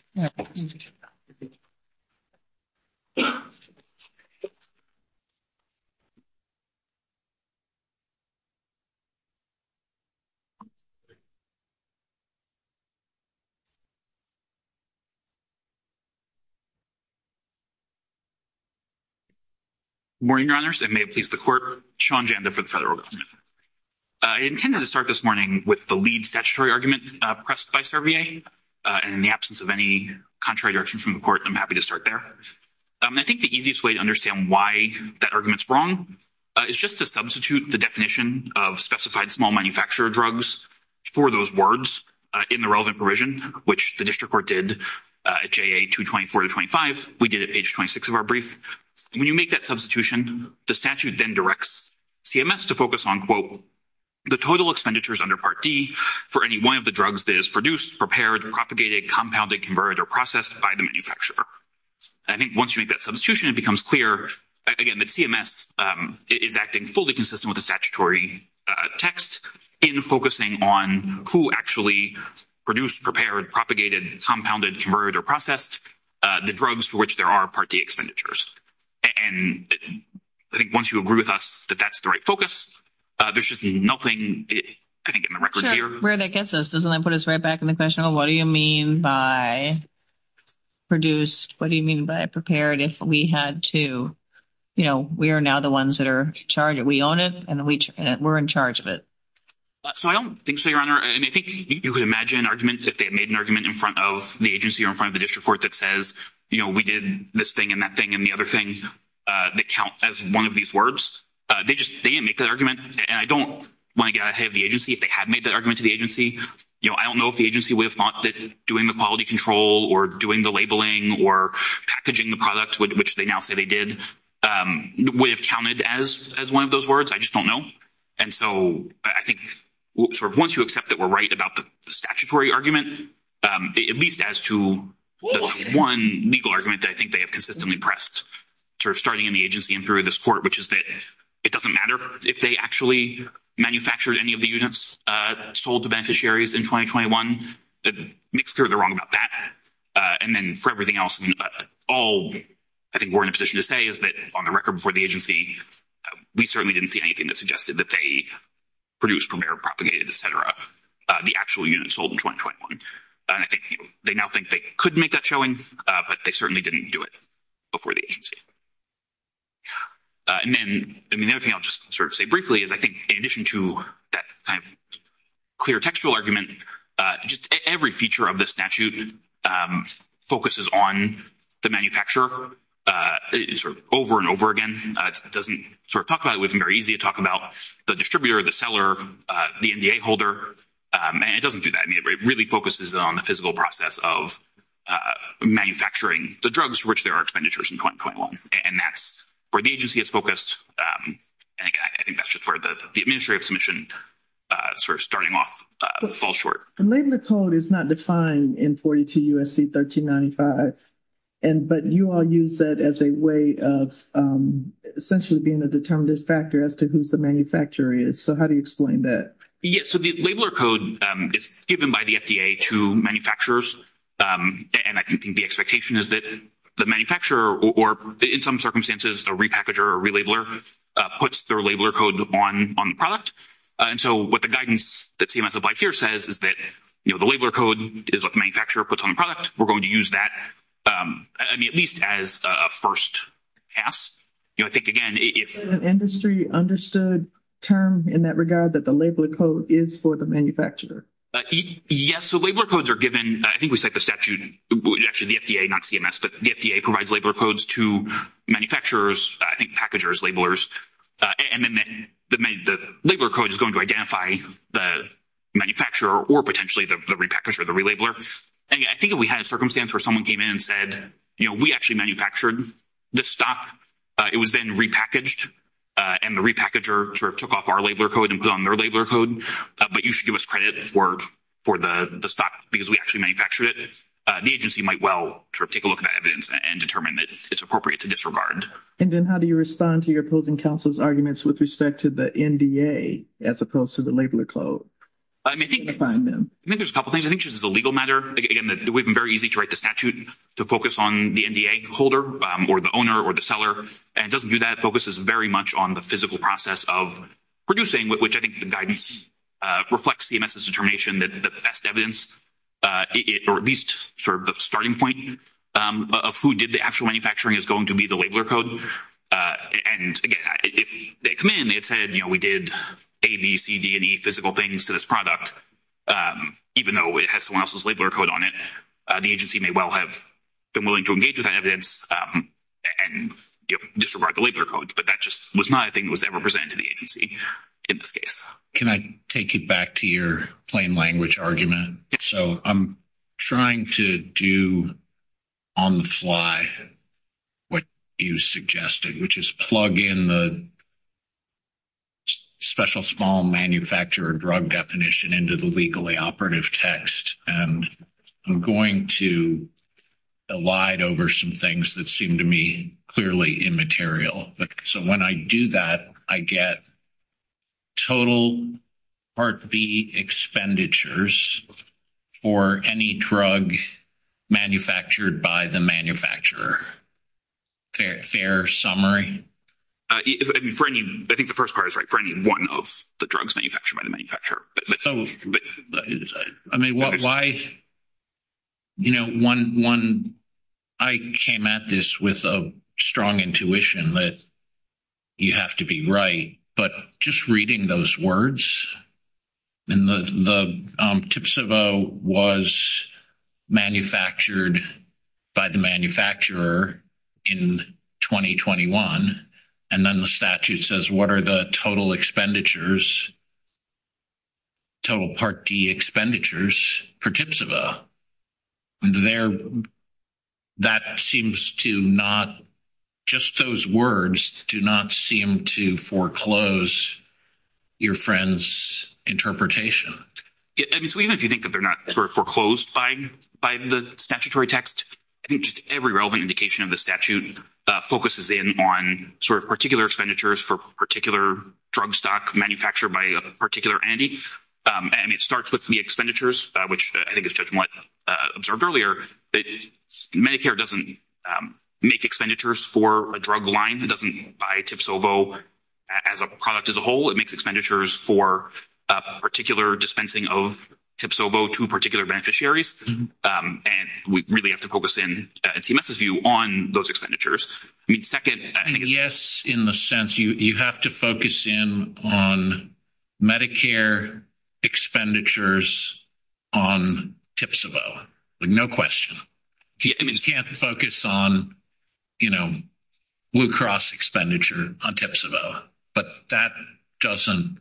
Good morning, Your Honors. And may it please the court, Sean Janda for the federal government. I intended to start this morning with the lead statutory argument pressed by Cervier. And in the absence of any contrary direction from the court, I'm happy to start there. I think the easiest way to understand why that argument's wrong is just to substitute the definition of specified small manufacturer drugs for those words in the relevant provision, which the district court did at JA 224-25. We did it at page 26 of our brief. When you make that substitution, the statute then directs CMS to focus on, quote, the total expenditures under Part D for any one of the drugs that is produced, prepared, propagated, compounded, converted, or processed by the manufacturer. I think once you make that substitution, it becomes clear, again, that CMS is acting fully consistent with the statutory text in focusing on who actually produced, prepared, propagated, compounded, converted, or processed the drugs for which there are Part D expenditures. And I think once you agree with us that that's the right focus, there's just nothing, I think, in the record here. Sure. Where did that get us? Does that put us right back in the question of what do you mean by produced? What do you mean by prepared if we had to, you know, we are now the ones that are charged. We own it and we're in charge of it. So I don't think so, Your Honor. And I think you could imagine arguments if they made an argument in front of the agency or in front of the district court that says, you know, we did this thing and that thing and the other things that count as one of these words. They just didn't make that argument. And I don't want to get ahead of the agency if they had made that agency. You know, I don't know if the agency would have thought that doing the quality control or doing the labeling or packaging the product, which they now say they did, would have counted as one of those words. I just don't know. And so I think sort of once you accept that we're right about the statutory argument, at least as to the one legal argument that I think they have consistently pressed sort of starting in the agency and through this court, which is that it doesn't matter if they actually manufactured any of the units that sold to beneficiaries in 2021. It makes clear they're wrong about that. And then for everything else, all I think we're in a position to say is that on the record before the agency, we certainly didn't see anything that suggested that they produced, prepared, propagated, et cetera, the actual units sold in 2021. I think they now think they could make that showing, but they certainly didn't do it before the agency. And then, I mean, the other thing I'll just sort of say briefly is I think in addition to that kind of clear textual argument, just every feature of the statute focuses on the manufacturer over and over again. It doesn't sort of talk about it. It wasn't very easy to talk about the distributor, the seller, the NDA holder. It doesn't do that. I mean, it really focuses on the physical process of manufacturing the drugs for which there are expenditures in 2021. And that's where the agency is focused, and I think that's just where the administrative submission sort of starting off falls short. The labeler code is not defined in 42 U.S.C. 1395, but you all use that as a way of essentially being a determinative factor as to who the manufacturer is. So, how do you explain that? Yes. So, the labeler code is given by the FDA to manufacturers, and I think the expectation is that the manufacturer or in some circumstances a repackager or relabeler puts their labeler code on the product. And so, what the guidance that CMS applies here says is that, you know, the labeler code is what the manufacturer puts on the product. We're going to use that, I mean, at least as a first pass. You know, I think, again, industry understood term in that regard that the labeler code is for the manufacturer. Yes. So, labeler codes are given, I think we said the statute, actually the FDA, not CMS, but the FDA provides labeler codes to manufacturers, I think packagers, labelers, and then the labeler code is going to identify the manufacturer or potentially the repackager or the relabeler. I think if we had a circumstance where someone came in and said, you know, we actually manufactured this stock, it was then repackaged, and the repackager sort of took off our labeler code and put on their labeler code, but you should give us credit for the stock because we actually manufactured it, the agency might well sort of take a look at that evidence and determine that it's appropriate to disregard. And then how do you respond to your opposing counsel's arguments with respect to the NDA as opposed to the labeler code? I mean, I think there's a couple of things. I think just as a legal matter, again, it would be very easy to write the statute to focus on the NDA holder or the owner or the seller, and it doesn't do that. It focuses very much on the physical process of producing, which I think the guidance reflects CMS's determination that the best evidence, or at least sort of the starting point of who did the actual manufacturing is going to be the labeler code. And again, if they come in, they said, you know, we did A, B, C, D, and E physical things to this product, even though it has someone else's labeler code on it, the agency may well have been willing to engage with that evidence and disregard the labeler code, but that just was not a thing that was ever presented to the agency in this case. Can I take it back to your plain language argument? So I'm trying to do on the fly what you suggested, which is plug in the special small manufacturer drug definition into the legally operative text, and I'm going to elide over some things that seem to me clearly immaterial. So when I do that, I get total Part B expenditures for any drug manufactured by the manufacturer. Fair summary? I think the first part is right. For any one of the drugs manufactured by the manufacturer, you have to be right. But just reading those words, and the TIPSAVA was manufactured by the manufacturer in 2021, and then the statute says what are the total expenditures, total Part D expenditures for TIPSAVA? That seems to not, just those words do not seem to foreclose your friend's interpretation. So even if you think that they're not foreclosed by the statutory text, I think just every relevant indication of the statute focuses in on sort of particular expenditures for a particular drug stock manufactured by a particular entity, and it starts with the expenditures, which I think is just what I observed earlier. Medicare doesn't make expenditures for a drug line. It doesn't buy TIPSAVA as a product as a whole. It makes expenditures for a particular dispensing of TIPSAVA to a particular beneficiary, and we really have to focus in, on those expenditures. Second, yes, in the sense you have to focus in on Medicare expenditures on TIPSAVA. No question. You can't focus on, you know, Blue Cross expenditure on TIPSAVA, but that doesn't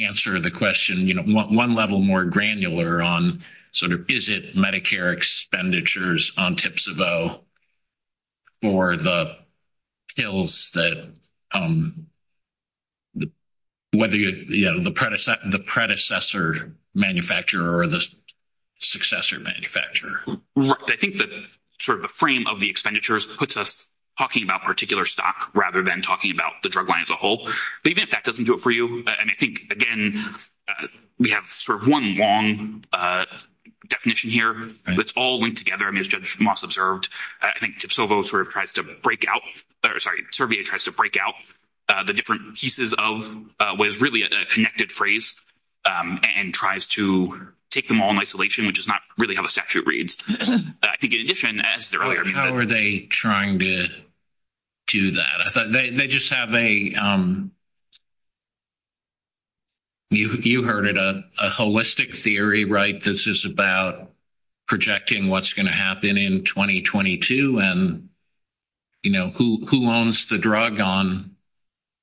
answer the question, you know, one level more granular on sort of Medicare expenditures on TIPSAVA or the pills that, whether, you know, the predecessor manufacturer or the successor manufacturer. Right. I think that sort of the frame of the expenditures puts us talking about particular stock rather than talking about the drug line as a whole. Even if that doesn't do it for you, and I think, again, we have sort of one long definition here, but it's all linked together, as Judge Moss observed. I think TIPSAVA sort of tries to break out, or sorry, CERBIA tries to break out the different pieces of what is really a connected phrase and tries to take them all in isolation, which is not really how the statute reads. I think in addition, as earlier. How are they trying to do that? They just have a, you know, you heard it, a holistic theory, right? This is about projecting what's going to happen in 2022 and, you know, who owns the drug on.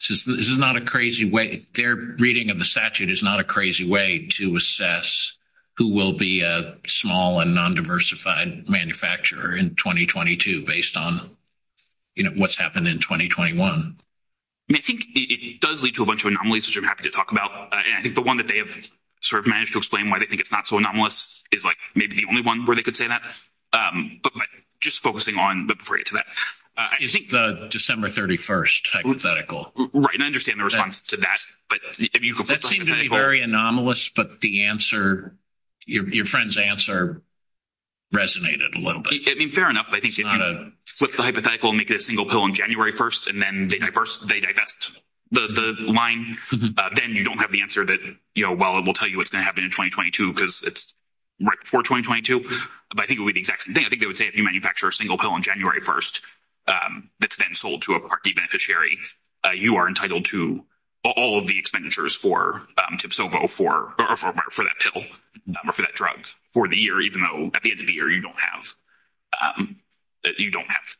This is not a crazy way. Their reading of the statute is not a crazy way to assess who will be a small and non-diversified manufacturer in 2022 based on, you know, what's happened in 2021. And I think it does lead to a bunch of anomalies, which I'm happy to talk about. And I think the one that they have sort of managed to explain why they think it's not so anomalous is, like, maybe the only one where they could say that. But just focusing on, but before I get to that. I think the December 31st hypothetical. Right, and I understand the response to that, but if you could. That seems to be very anomalous, but the answer, your friend's answer resonated a little bit. I mean, fair enough. I think if you flip the hypothetical and make it a single pill on January 1st, and then they divest the line, then you don't have the answer that, you know, while it will tell you what's going to happen in 2022, because it's right before 2022. But I think it would be the exact same thing. I think they would say if you manufacture a single pill on January 1st, that's then sold to a party beneficiary, you are entitled to all of the expenditures for, for that pill or for that drug for the year, even though at the end of the year you don't have, you don't have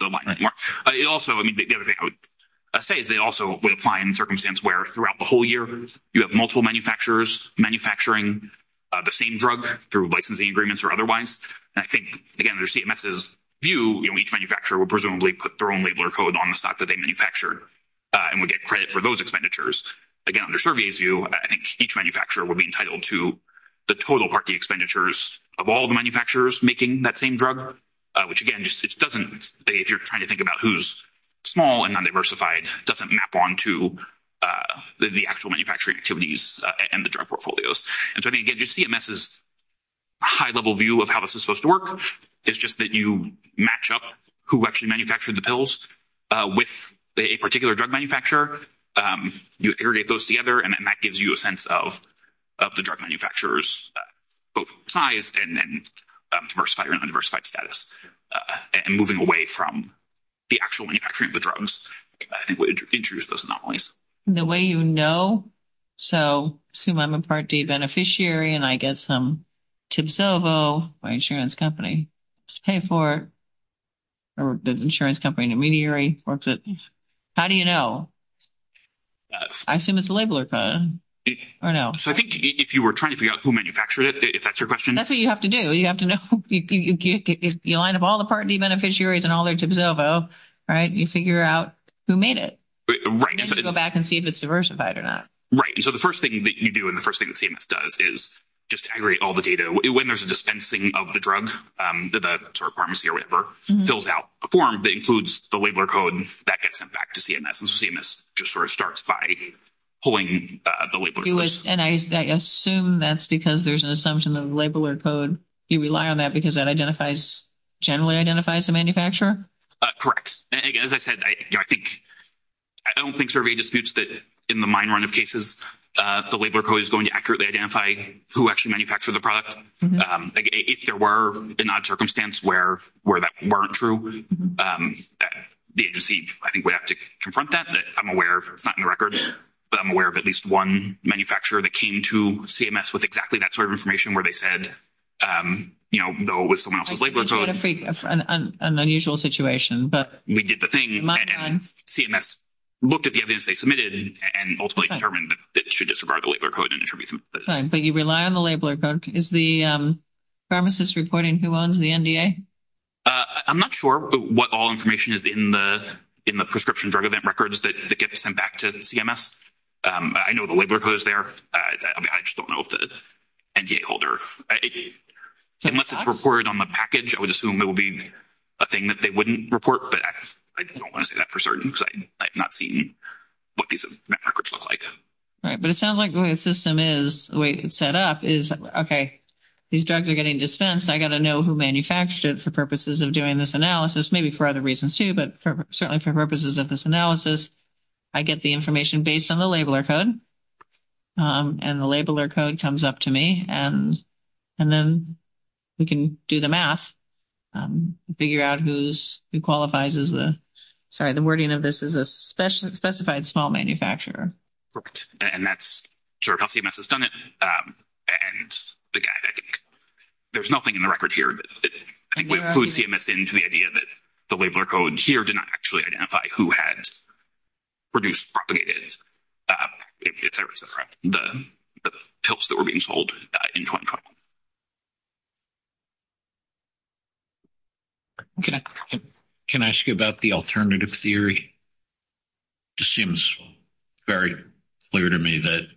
the line anymore. I also, I mean, the other thing I would say is they also would apply in circumstance where throughout the whole year you have multiple manufacturers manufacturing the same drug through licensing agreements or otherwise. I think, again, under CMS's view, you know, each manufacturer would presumably put their own labeler code on the stock that they manufactured and would get credit for those expenditures. Again, under SurveyA's view, I think each manufacturer would be entitled to the total party expenditures of all the manufacturers making that same drug, which, again, just doesn't, if you're trying to think about who's small and non-diversified, doesn't map onto the actual manufacturing activities and the drug portfolios. And so, I mean, again, just CMS's high-level view of how this is supposed to work is just that you match up who actually manufactured the pills with a particular drug manufacturer, you aggregate those together, and then that gives you a sense of the drug manufacturers, both sized and diversified or non-diversified status, and moving away from the actual manufacturing of the drugs, I think, would introduce those anomalies. The way you know, so assume I'm a Part D beneficiary and I get some Tibsovo, my insurance company, to pay for it, or the insurance company intermediary works it, how do you know? I assume it's a labeler code, or no? So, I think if you were trying to figure out who manufactured it, if that's your question. That's what you have to do. You have to know, you line up all the Part D beneficiaries and all their Tibsovo, right? You figure out who made it. Right. You have to go back and see if it's diversified or not. Right. So, the first thing that you do and the first thing that CMS does is just aggregate all the data. When there's a dispensing of the drug, the pharmacy or whatever, fills out a form that includes the labeler code that gets sent back to CMS. And CMS just sort of starts by pulling the labeler code. And I assume that's because there's an assumption of labeler code. You rely on that because that identifies, generally identifies, the manufacturer? Correct. As I said, I think, I don't think survey disputes that in the mine run of cases, the labeler code is going to accurately identify who actually manufactured the product. If there were a non-circumstance where that weren't true, the agency, I think, would have to confront that. But I'm aware, it's not in the record, but I'm aware of at least one manufacturer that came to CMS with exactly that sort of information where they said, you know, no, it was someone else's labeler code. It's kind of an unusual situation. But we did the thing and CMS looked at the evidence they submitted and ultimately determined that it should disregard the labeler code. But you rely on the labeler code. Is the pharmacist reporting who owns the NDA? I'm not sure what all information is in the prescription drug event records that get sent back to CMS. I know the labeler code is there. I just don't know if the NDA holder, unless it's reported on the package, I would assume it would be a thing that they wouldn't report. But I don't want to say that for certain because I've not seen what these records look like. Right. But it sounds like the way the system is, the way it's set up is, okay, these drugs are getting dispensed. I got to know who manufactured it for purposes of doing this analysis, maybe for other reasons too, but certainly for purposes of this analysis, I get the information based on the labeler code and the labeler code comes up to me. And then we can do the math, figure out who qualifies as the, sorry, the wording of this is a specified small manufacturer. Right. And that's sort of how CMS has done it. And there's nothing in the record here that I think would include CMS into the idea that the labeler code here did not actually identify who had produced, propagated, the pills that were being sold in Hong Kong. Okay. Can I ask you about the alternative theory? It just seems very clear to me that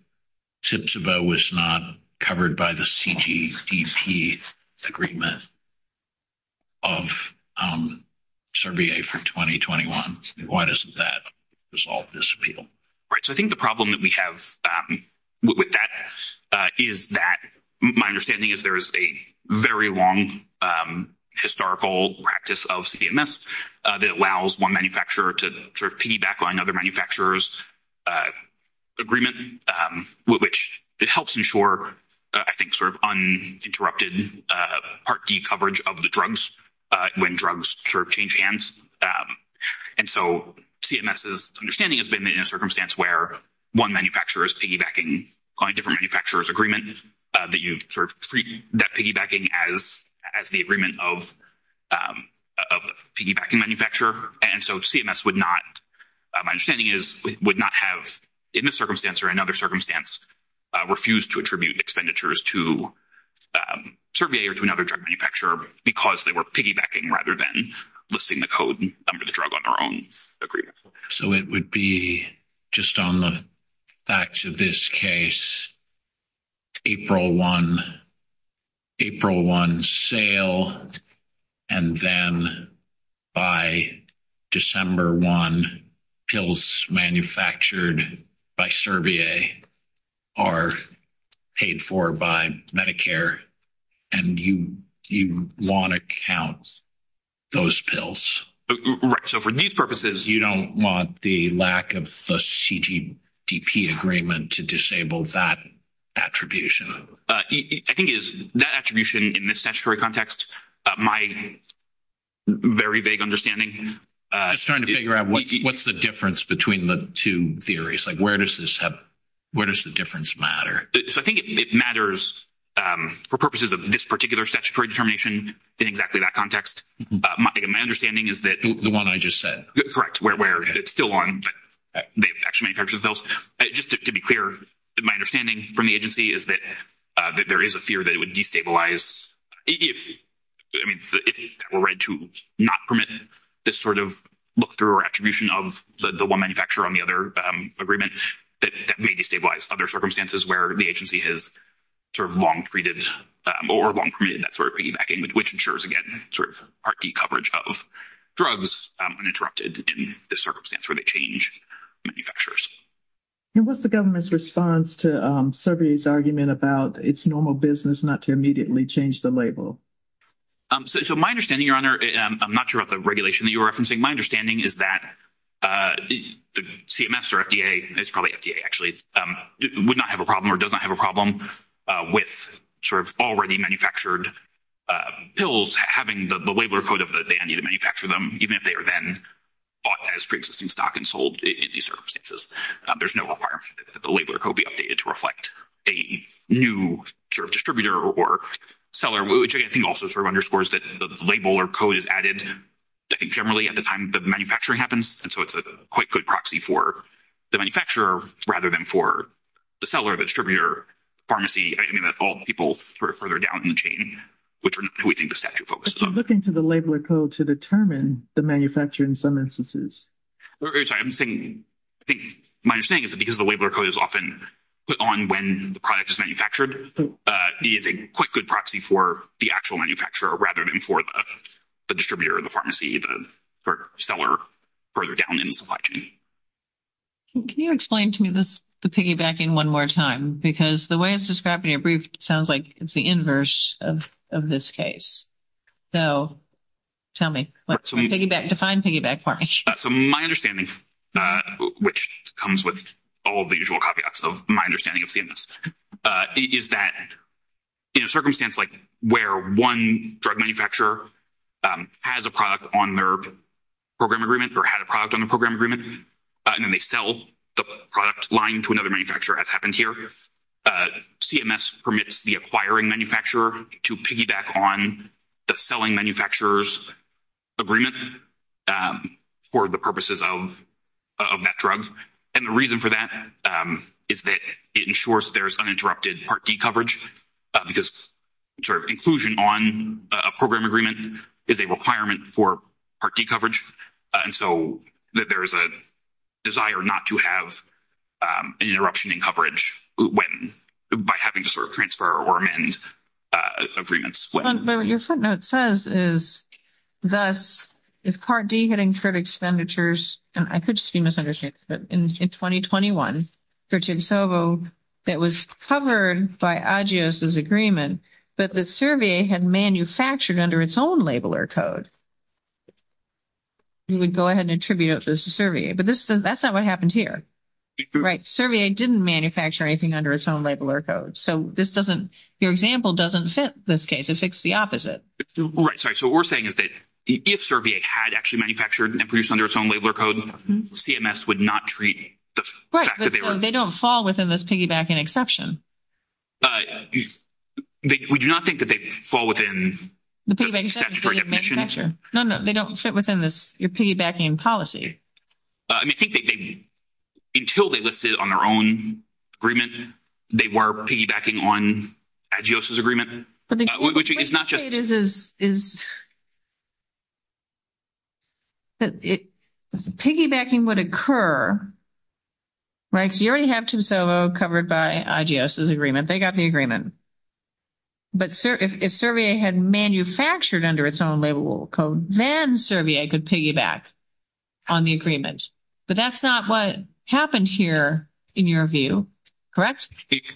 Tiptoe was not covered by the CTC agreement of Cervier for 2021. Why doesn't that resolve this appeal? Right. So I think the problem that we have with that is that my understanding is there is a very long historical practice of CMS that allows one manufacturer to sort of piggyback on other manufacturers' agreement, which helps ensure, I think, sort of uninterrupted Part D coverage of when drugs sort of change hands. And so CMS's understanding has been that in a circumstance where one manufacturer is piggybacking on a different manufacturer's agreement that you sort of treat that piggybacking as the agreement of a piggybacking manufacturer. And so CMS would not, my understanding is, would not have in this circumstance or another circumstance refused to attribute expenditures to Cervier or to another drug manufacturer because they were piggybacking rather than listing the code number of the drug on their own agreement. So it would be just on the facts of this case, April 1 sale, and then by December 1, pills manufactured by Cervier are paid for by Medicare, and you want to count those pills. Right. So for these purposes, you don't want the lack of a CGDP agreement to disable that attribution. I think that attribution in this difference between the two theories, like where does the difference matter? I think it matters for purposes of this particular statutory determination in exactly that context. My understanding is that... The one I just said. Correct, where it's still on the actual manufacturing sales. But just to be clear, my understanding from the agency is that there is a fear that it would destabilize if it were right to not permit this sort of look-through attribution of the one manufacturer on the other agreement that may destabilize other circumstances where the agency has sort of long-permitted that sort of piggybacking, which ensures, again, sort of hearty coverage of drugs uninterrupted in this circumstance where they change manufacturers. And what's the government's response to Cervier's argument about its normal business not to change the label? So my understanding, Your Honor, I'm not sure about the regulation that you're referencing. My understanding is that the CMS or FDA, it's probably FDA actually, would not have a problem or does not have a problem with sort of already manufactured pills having the label or code of that they need to manufacture them, even if they are then bought as pre-existing stock and sold in these circumstances. There's no requirement that the label or code be updated to reflect a new distributor or seller, which I think also sort of underscores that the label or code is added generally at the time that the manufacturing happens. And so it's a quite good proxy for the manufacturer rather than for the seller, the distributor, pharmacy, anything that involves people further down the chain, which we think the statute focuses on. Looking to the label or code to determine the manufacturer in some instances. I'm saying, I think my understanding is that because the label or code is often put on when the product is manufactured, it is a quite good proxy for the actual manufacturer rather than for the distributor, the pharmacy, the seller, further down the supply chain. Can you explain to me the piggybacking one more time? Because the way it's described in your brief sounds like it's the inverse of this case. So tell me. Define piggyback for me. So my understanding, which comes with all the usual copyouts of my understanding of CMS, is that in a circumstance like where one drug manufacturer has a product on their program agreement or had a product on the program agreement and then they sell the product line to another manufacturer, as happened here, CMS permits the acquiring manufacturer to piggyback on the manufacturer's agreement for the purposes of that drug. And the reason for that is that it ensures that there's uninterrupted Part D coverage because sort of inclusion on a program agreement is a requirement for Part D coverage. And so that there is a desire not to have an interruption in coverage by having to sort of transfer or amend agreements. But what your footnote says is, thus, if Part D had incurred expenditures, and I could just be misunderstood, but in 2021, for Tegsovo, that was covered by AGIOS's agreement, but the Cervier had manufactured under its own labeler code, you would go ahead and attribute this to Cervier. But that's not what happened here. Right? Cervier didn't manufacture anything under its own labeler code. So this doesn't, your example doesn't fit this case. It fits the opposite. Right. Sorry. So what we're saying is that if Cervier had actually manufactured and produced under its own labeler code, CMS would not treat the fact that they were- They don't fall within this piggybacking exception. We do not think that they fall within- No, no. They don't fit within your piggybacking policy. I mean, I think they, until they listed it on their own agreement, they were piggybacking on AGIOS's agreement, which is not just- What I'm saying is, piggybacking would occur, right? Because you already have Tegsovo covered by AGIOS's agreement. They got the agreement. But if Cervier had manufactured under its own code, then Cervier could piggyback on the agreement. But that's not what happened here in your view. Correct?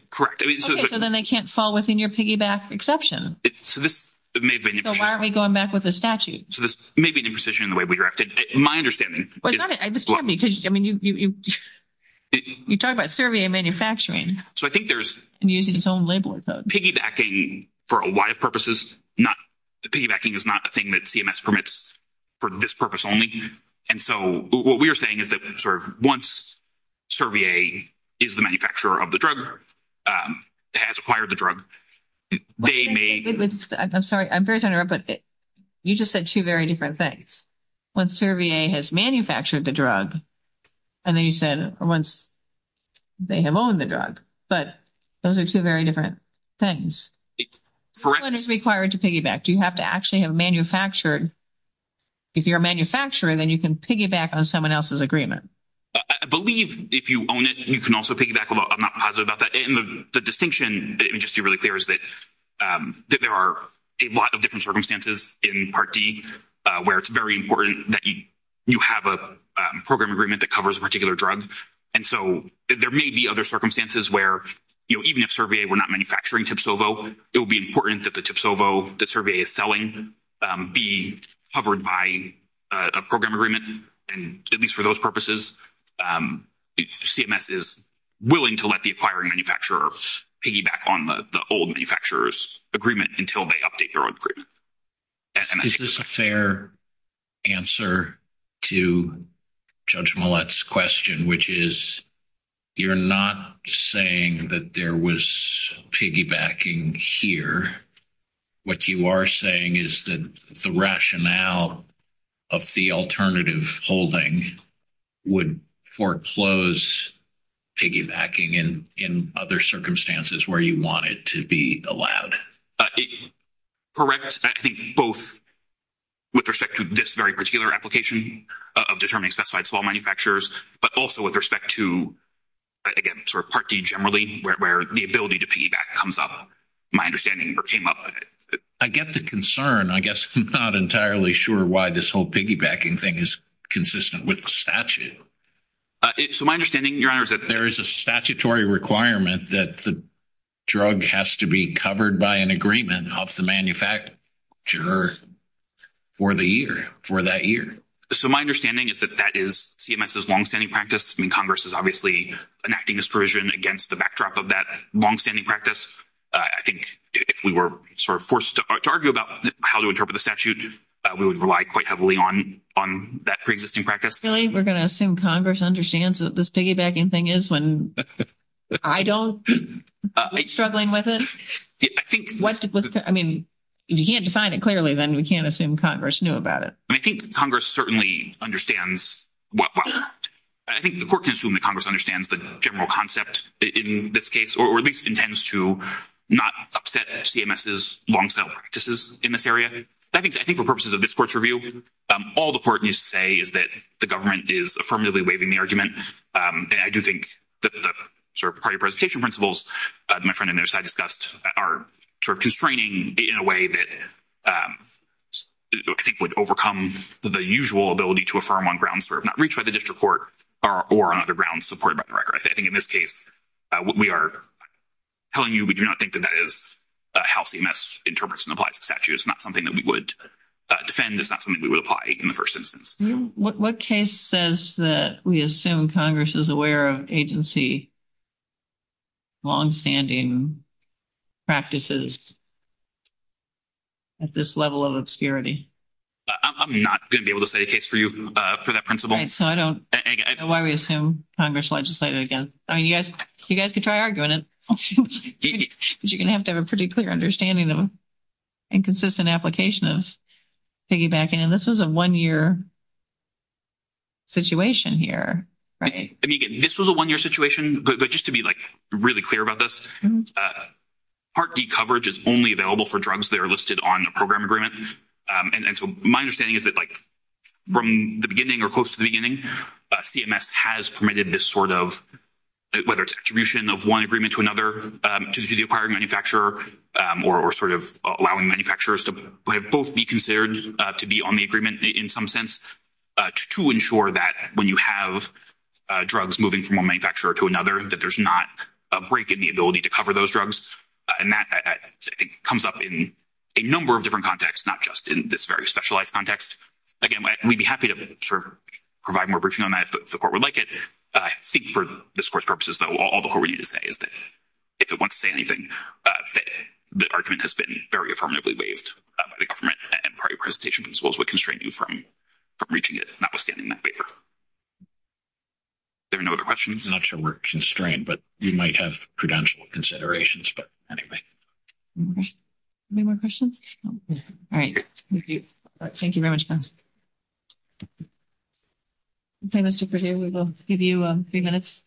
Correct. Okay. So then they can't fall within your piggyback exception. So this may be an imprecision. So why aren't we going back with the statute? So this may be an imprecision in the way we directed. My understanding- Well, it's not an imprecision. I mean, you talk about Cervier manufacturing. So I think there's- And using its own labeler code. Piggybacking for a lot of purposes, piggybacking is not a thing that CMS permits for this purpose only. And so what we are saying is that once Cervier is the manufacturer of the drug, has acquired the drug, they may- I'm sorry. I'm very sorry to interrupt, but you just said two very different things. Once Cervier has manufactured the drug, and then you said once they have owned the drug. But those are two very different things. What is required to piggyback? Do you have to actually have manufactured? If you're a manufacturer, then you can piggyback on someone else's agreement. I believe if you own it, you can also piggyback. I'm not positive about that. And the distinction, let me just be really clear, is that there are a lot of different circumstances in Part D where it's very important that you have a program agreement that covers a particular drug. And so there may be other circumstances where, you know, even if Cervier were not manufacturing Tipsovo, it would be important that the Tipsovo that Cervier is selling be covered by a program agreement. And at least for those purposes, CMS is willing to let the acquiring manufacturer piggyback on the old manufacturer's agreement until they update their own agreement. Is this a fair answer to Judge Millett's question, which is you're not saying that there was piggybacking here. What you are saying is that the rationale of the alternative holding would foreclose piggybacking in other circumstances where you want it to be allowed? It's correct, I think, both with respect to this very particular application of determining specified small manufacturers, but also with respect to, again, sort of Part D generally, where the ability to piggyback comes up. My understanding came up with it. I get the concern. I guess I'm not entirely sure why this whole piggybacking thing is consistent with the statute. So my understanding, Your Honor, is that there is a statutory requirement that the drug has to be covered by an agreement of the manufacturer for the year, for that year. So my understanding is that that is CMS's longstanding practice. I mean, Congress is obviously enacting this provision against the backdrop of that longstanding practice. I think if we were sort of forced to argue about how to interpret the statute, we would rely quite heavily on that preexisting practice. We're going to assume Congress understands what this piggybacking thing is when I don't? Are we struggling with it? I mean, if you can't define it clearly, then we can't assume Congress knew about it. I think Congress certainly understands. I think the court can assume that Congress understands the general concept in this case, or at least intends to not upset CMS's longstanding practices in this area. I think for purposes of this court's review, all the court needs to say is that the government is affirmatively waiving the argument. And I do think that the sort of party participation principles that my friend on the other side discussed are sort of constraining in a way that I think would overcome the usual ability to affirm on grounds sort of not reached by the district court or on other grounds supported by the record. I think in this case, we are telling you we do not think that how CMS interprets and applies the statute is not something that we would defend. It's not something we would apply in the first instance. What case says that we assume Congress is aware of agency longstanding practices at this level of obscurity? I'm not going to be able to say the case for you for that principle. I don't know why we assume Congress legislated against. You guys can try arguing it. You're going to have to have a pretty clear understanding of inconsistent application of piggybacking. And this is a one-year situation here, right? I mean, this was a one-year situation. But just to be like really clear about this, Part D coverage is only available for drugs that are listed on the program agreement. And so my understanding is that like from the beginning or close to the beginning, CMS has permitted this sort of, whether it's attribution of one agreement to another, to the acquired manufacturer, or sort of allowing manufacturers to both be considered to be on the agreement in some sense, to ensure that when you have drugs moving from one manufacturer to another, that there's not a break in the ability to cover those drugs. And that comes up in a number of different contexts, not just in this very specialized context. Again, we'd be happy to provide more briefing on that if the court would like it. I think for this court's purposes, though, all the more we need to say is that if it wants to say anything, the argument has been very affirmatively waived by the government, and prior presentation principles would constrain you from reaching it, notwithstanding that waiver. There are no other questions? I'm not sure we're constrained, but you might have prudential considerations, but anyway. Okay. Any more questions? All right. Thank you. Thank you very much. Okay, Mr. Perdue, we will give you three minutes.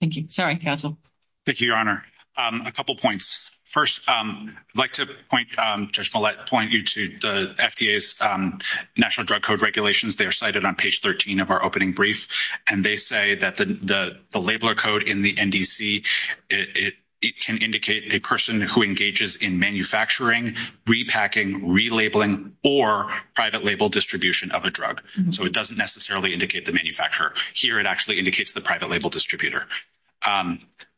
Thank you. Sorry, counsel. Thank you, Your Honor. A couple points. First, I'd like to point, Judge Millett, point you to the FDA's National Drug Code regulations. They are cited on page 13 of our opening brief, and they say that the labeler code in the NDC, it can indicate a person who engages in manufacturing, repacking, relabeling, or private label distribution of a drug. So, it doesn't necessarily indicate the manufacturer. Here, it actually indicates the private label distributor.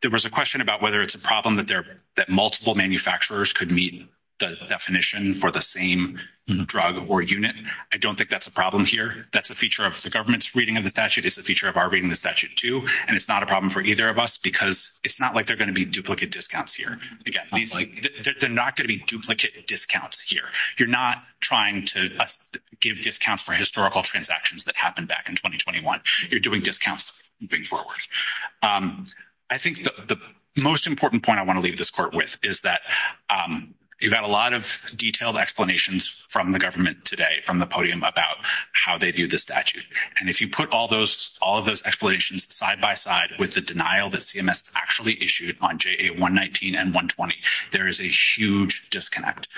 There was a question about whether it's a problem that multiple manufacturers could meet the definition for the same drug or unit. I don't think that's a problem here. That's a feature of the government's reading of the statute. It's a feature of our reading of the statute, too, and it's not a problem for either of us because it's not like there are going to be duplicate discounts here. They're not going to be duplicate discounts here. You're not trying to give discounts for historical transactions that happened back in 2021. You're doing discounts moving forward. I think the most important point I want to leave this court with is that you've got a lot of detailed explanations from the government today from the podium about how they view the statute, and if you put all those explanations side by side with the denial that CMS actually issued on JA 119 and 120, there is a huge disconnect.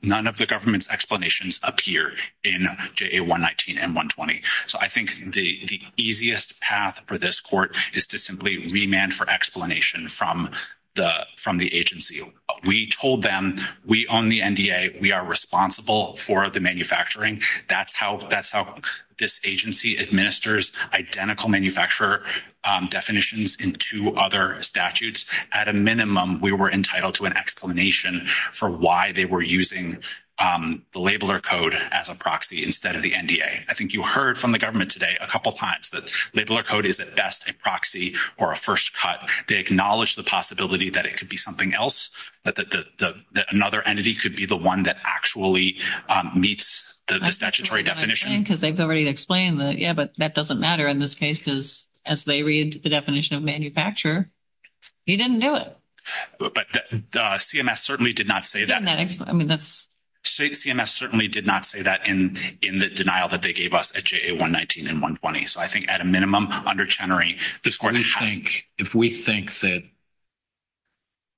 None of the government's explanations appear in JA 119 and 120. So, I think the easiest path for this court is to simply remand for explanation from the agency. We told them we own the NDA. We are responsible for the manufacturing. That's how this agency administers identical manufacturer definitions in two other statutes. At a minimum, we were entitled to an explanation for why they were using the labeler code as a proxy instead of the NDA. I think you heard from the government today a number of times that labeler code is at best a proxy or a first cut. They acknowledge the possibility that it could be something else, that another entity could be the one that actually meets the statutory definition. Because they've already explained that, yes, but that doesn't matter in this case because as they read the definition of manufacturer, you didn't know it. But CMS certainly did not say that. I mean, CMS certainly did not say that in the denial that they gave us at JA 119 and 120. So, I think at a minimum, under Chenery, this court is trying to... If we think that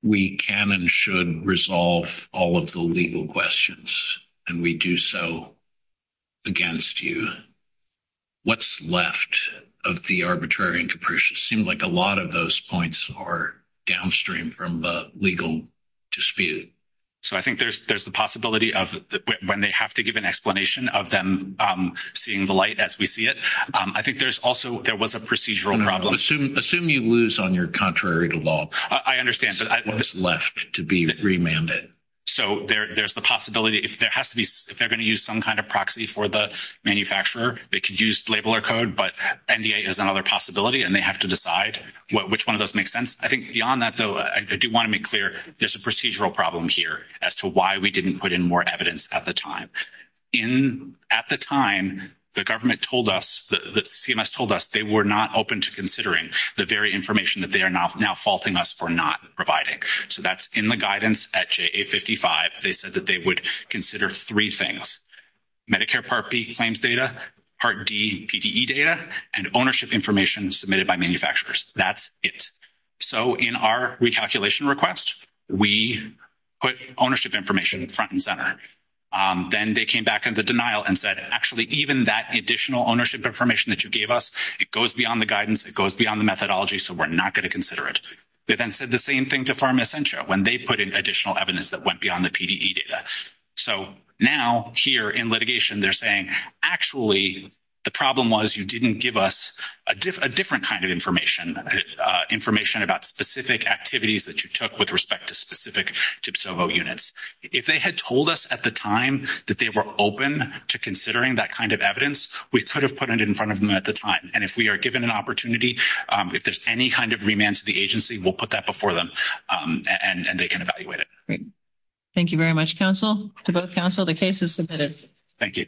we can and should resolve all of the legal questions and we do so against you, what's left of the arbitrary and capricious? It seems like a lot of those points are downstream from the legal dispute. So, I think there's the possibility of when they have to give an explanation of them seeing the light as we see it. I think there's also, there was a procedural problem. Assume you lose on your contrary to law. I understand, but... What's left to be remanded. So, there's the possibility. If there has to be, if they're going to use some kind of proxy for the manufacturer, they could use labeler code, but NDA is another possibility and they have to decide which one of those makes sense. I think beyond that, though, I do want to make clear, there's a procedural problem here as to why we didn't put in more evidence at the time. At the time, the government told us, the CMS told us they were not open to considering the very information that they are now faulting us for not providing. So, that's in the guidance at JA 55. They said that they would consider three things, Medicare Part B claims data, Part D PDE data, and ownership information submitted by manufacturers. That's it. So, in our recalculation request, we put ownership information front and center. Then they came back into denial and said, actually, even that additional ownership information that you gave us, it goes beyond the guidance, it goes beyond the methodology, so we're not going to consider it. They then said the same thing to Pharma Centro when they put in additional evidence that went beyond the PDE data. So, now, here in litigation, they're saying, actually, the problem was you didn't give us a different kind of information, information about specific activities that you took with respect to specific TPSOVO units. If they had told us at the time that they were open to considering that kind of evidence, we could have put it in front of them at the time. And if we are given an opportunity, if there's any kind of remand to the agency, we'll put that before them and they can evaluate it. Great. Thank you very much, counsel. To both counsel, the case is submitted. Thank you.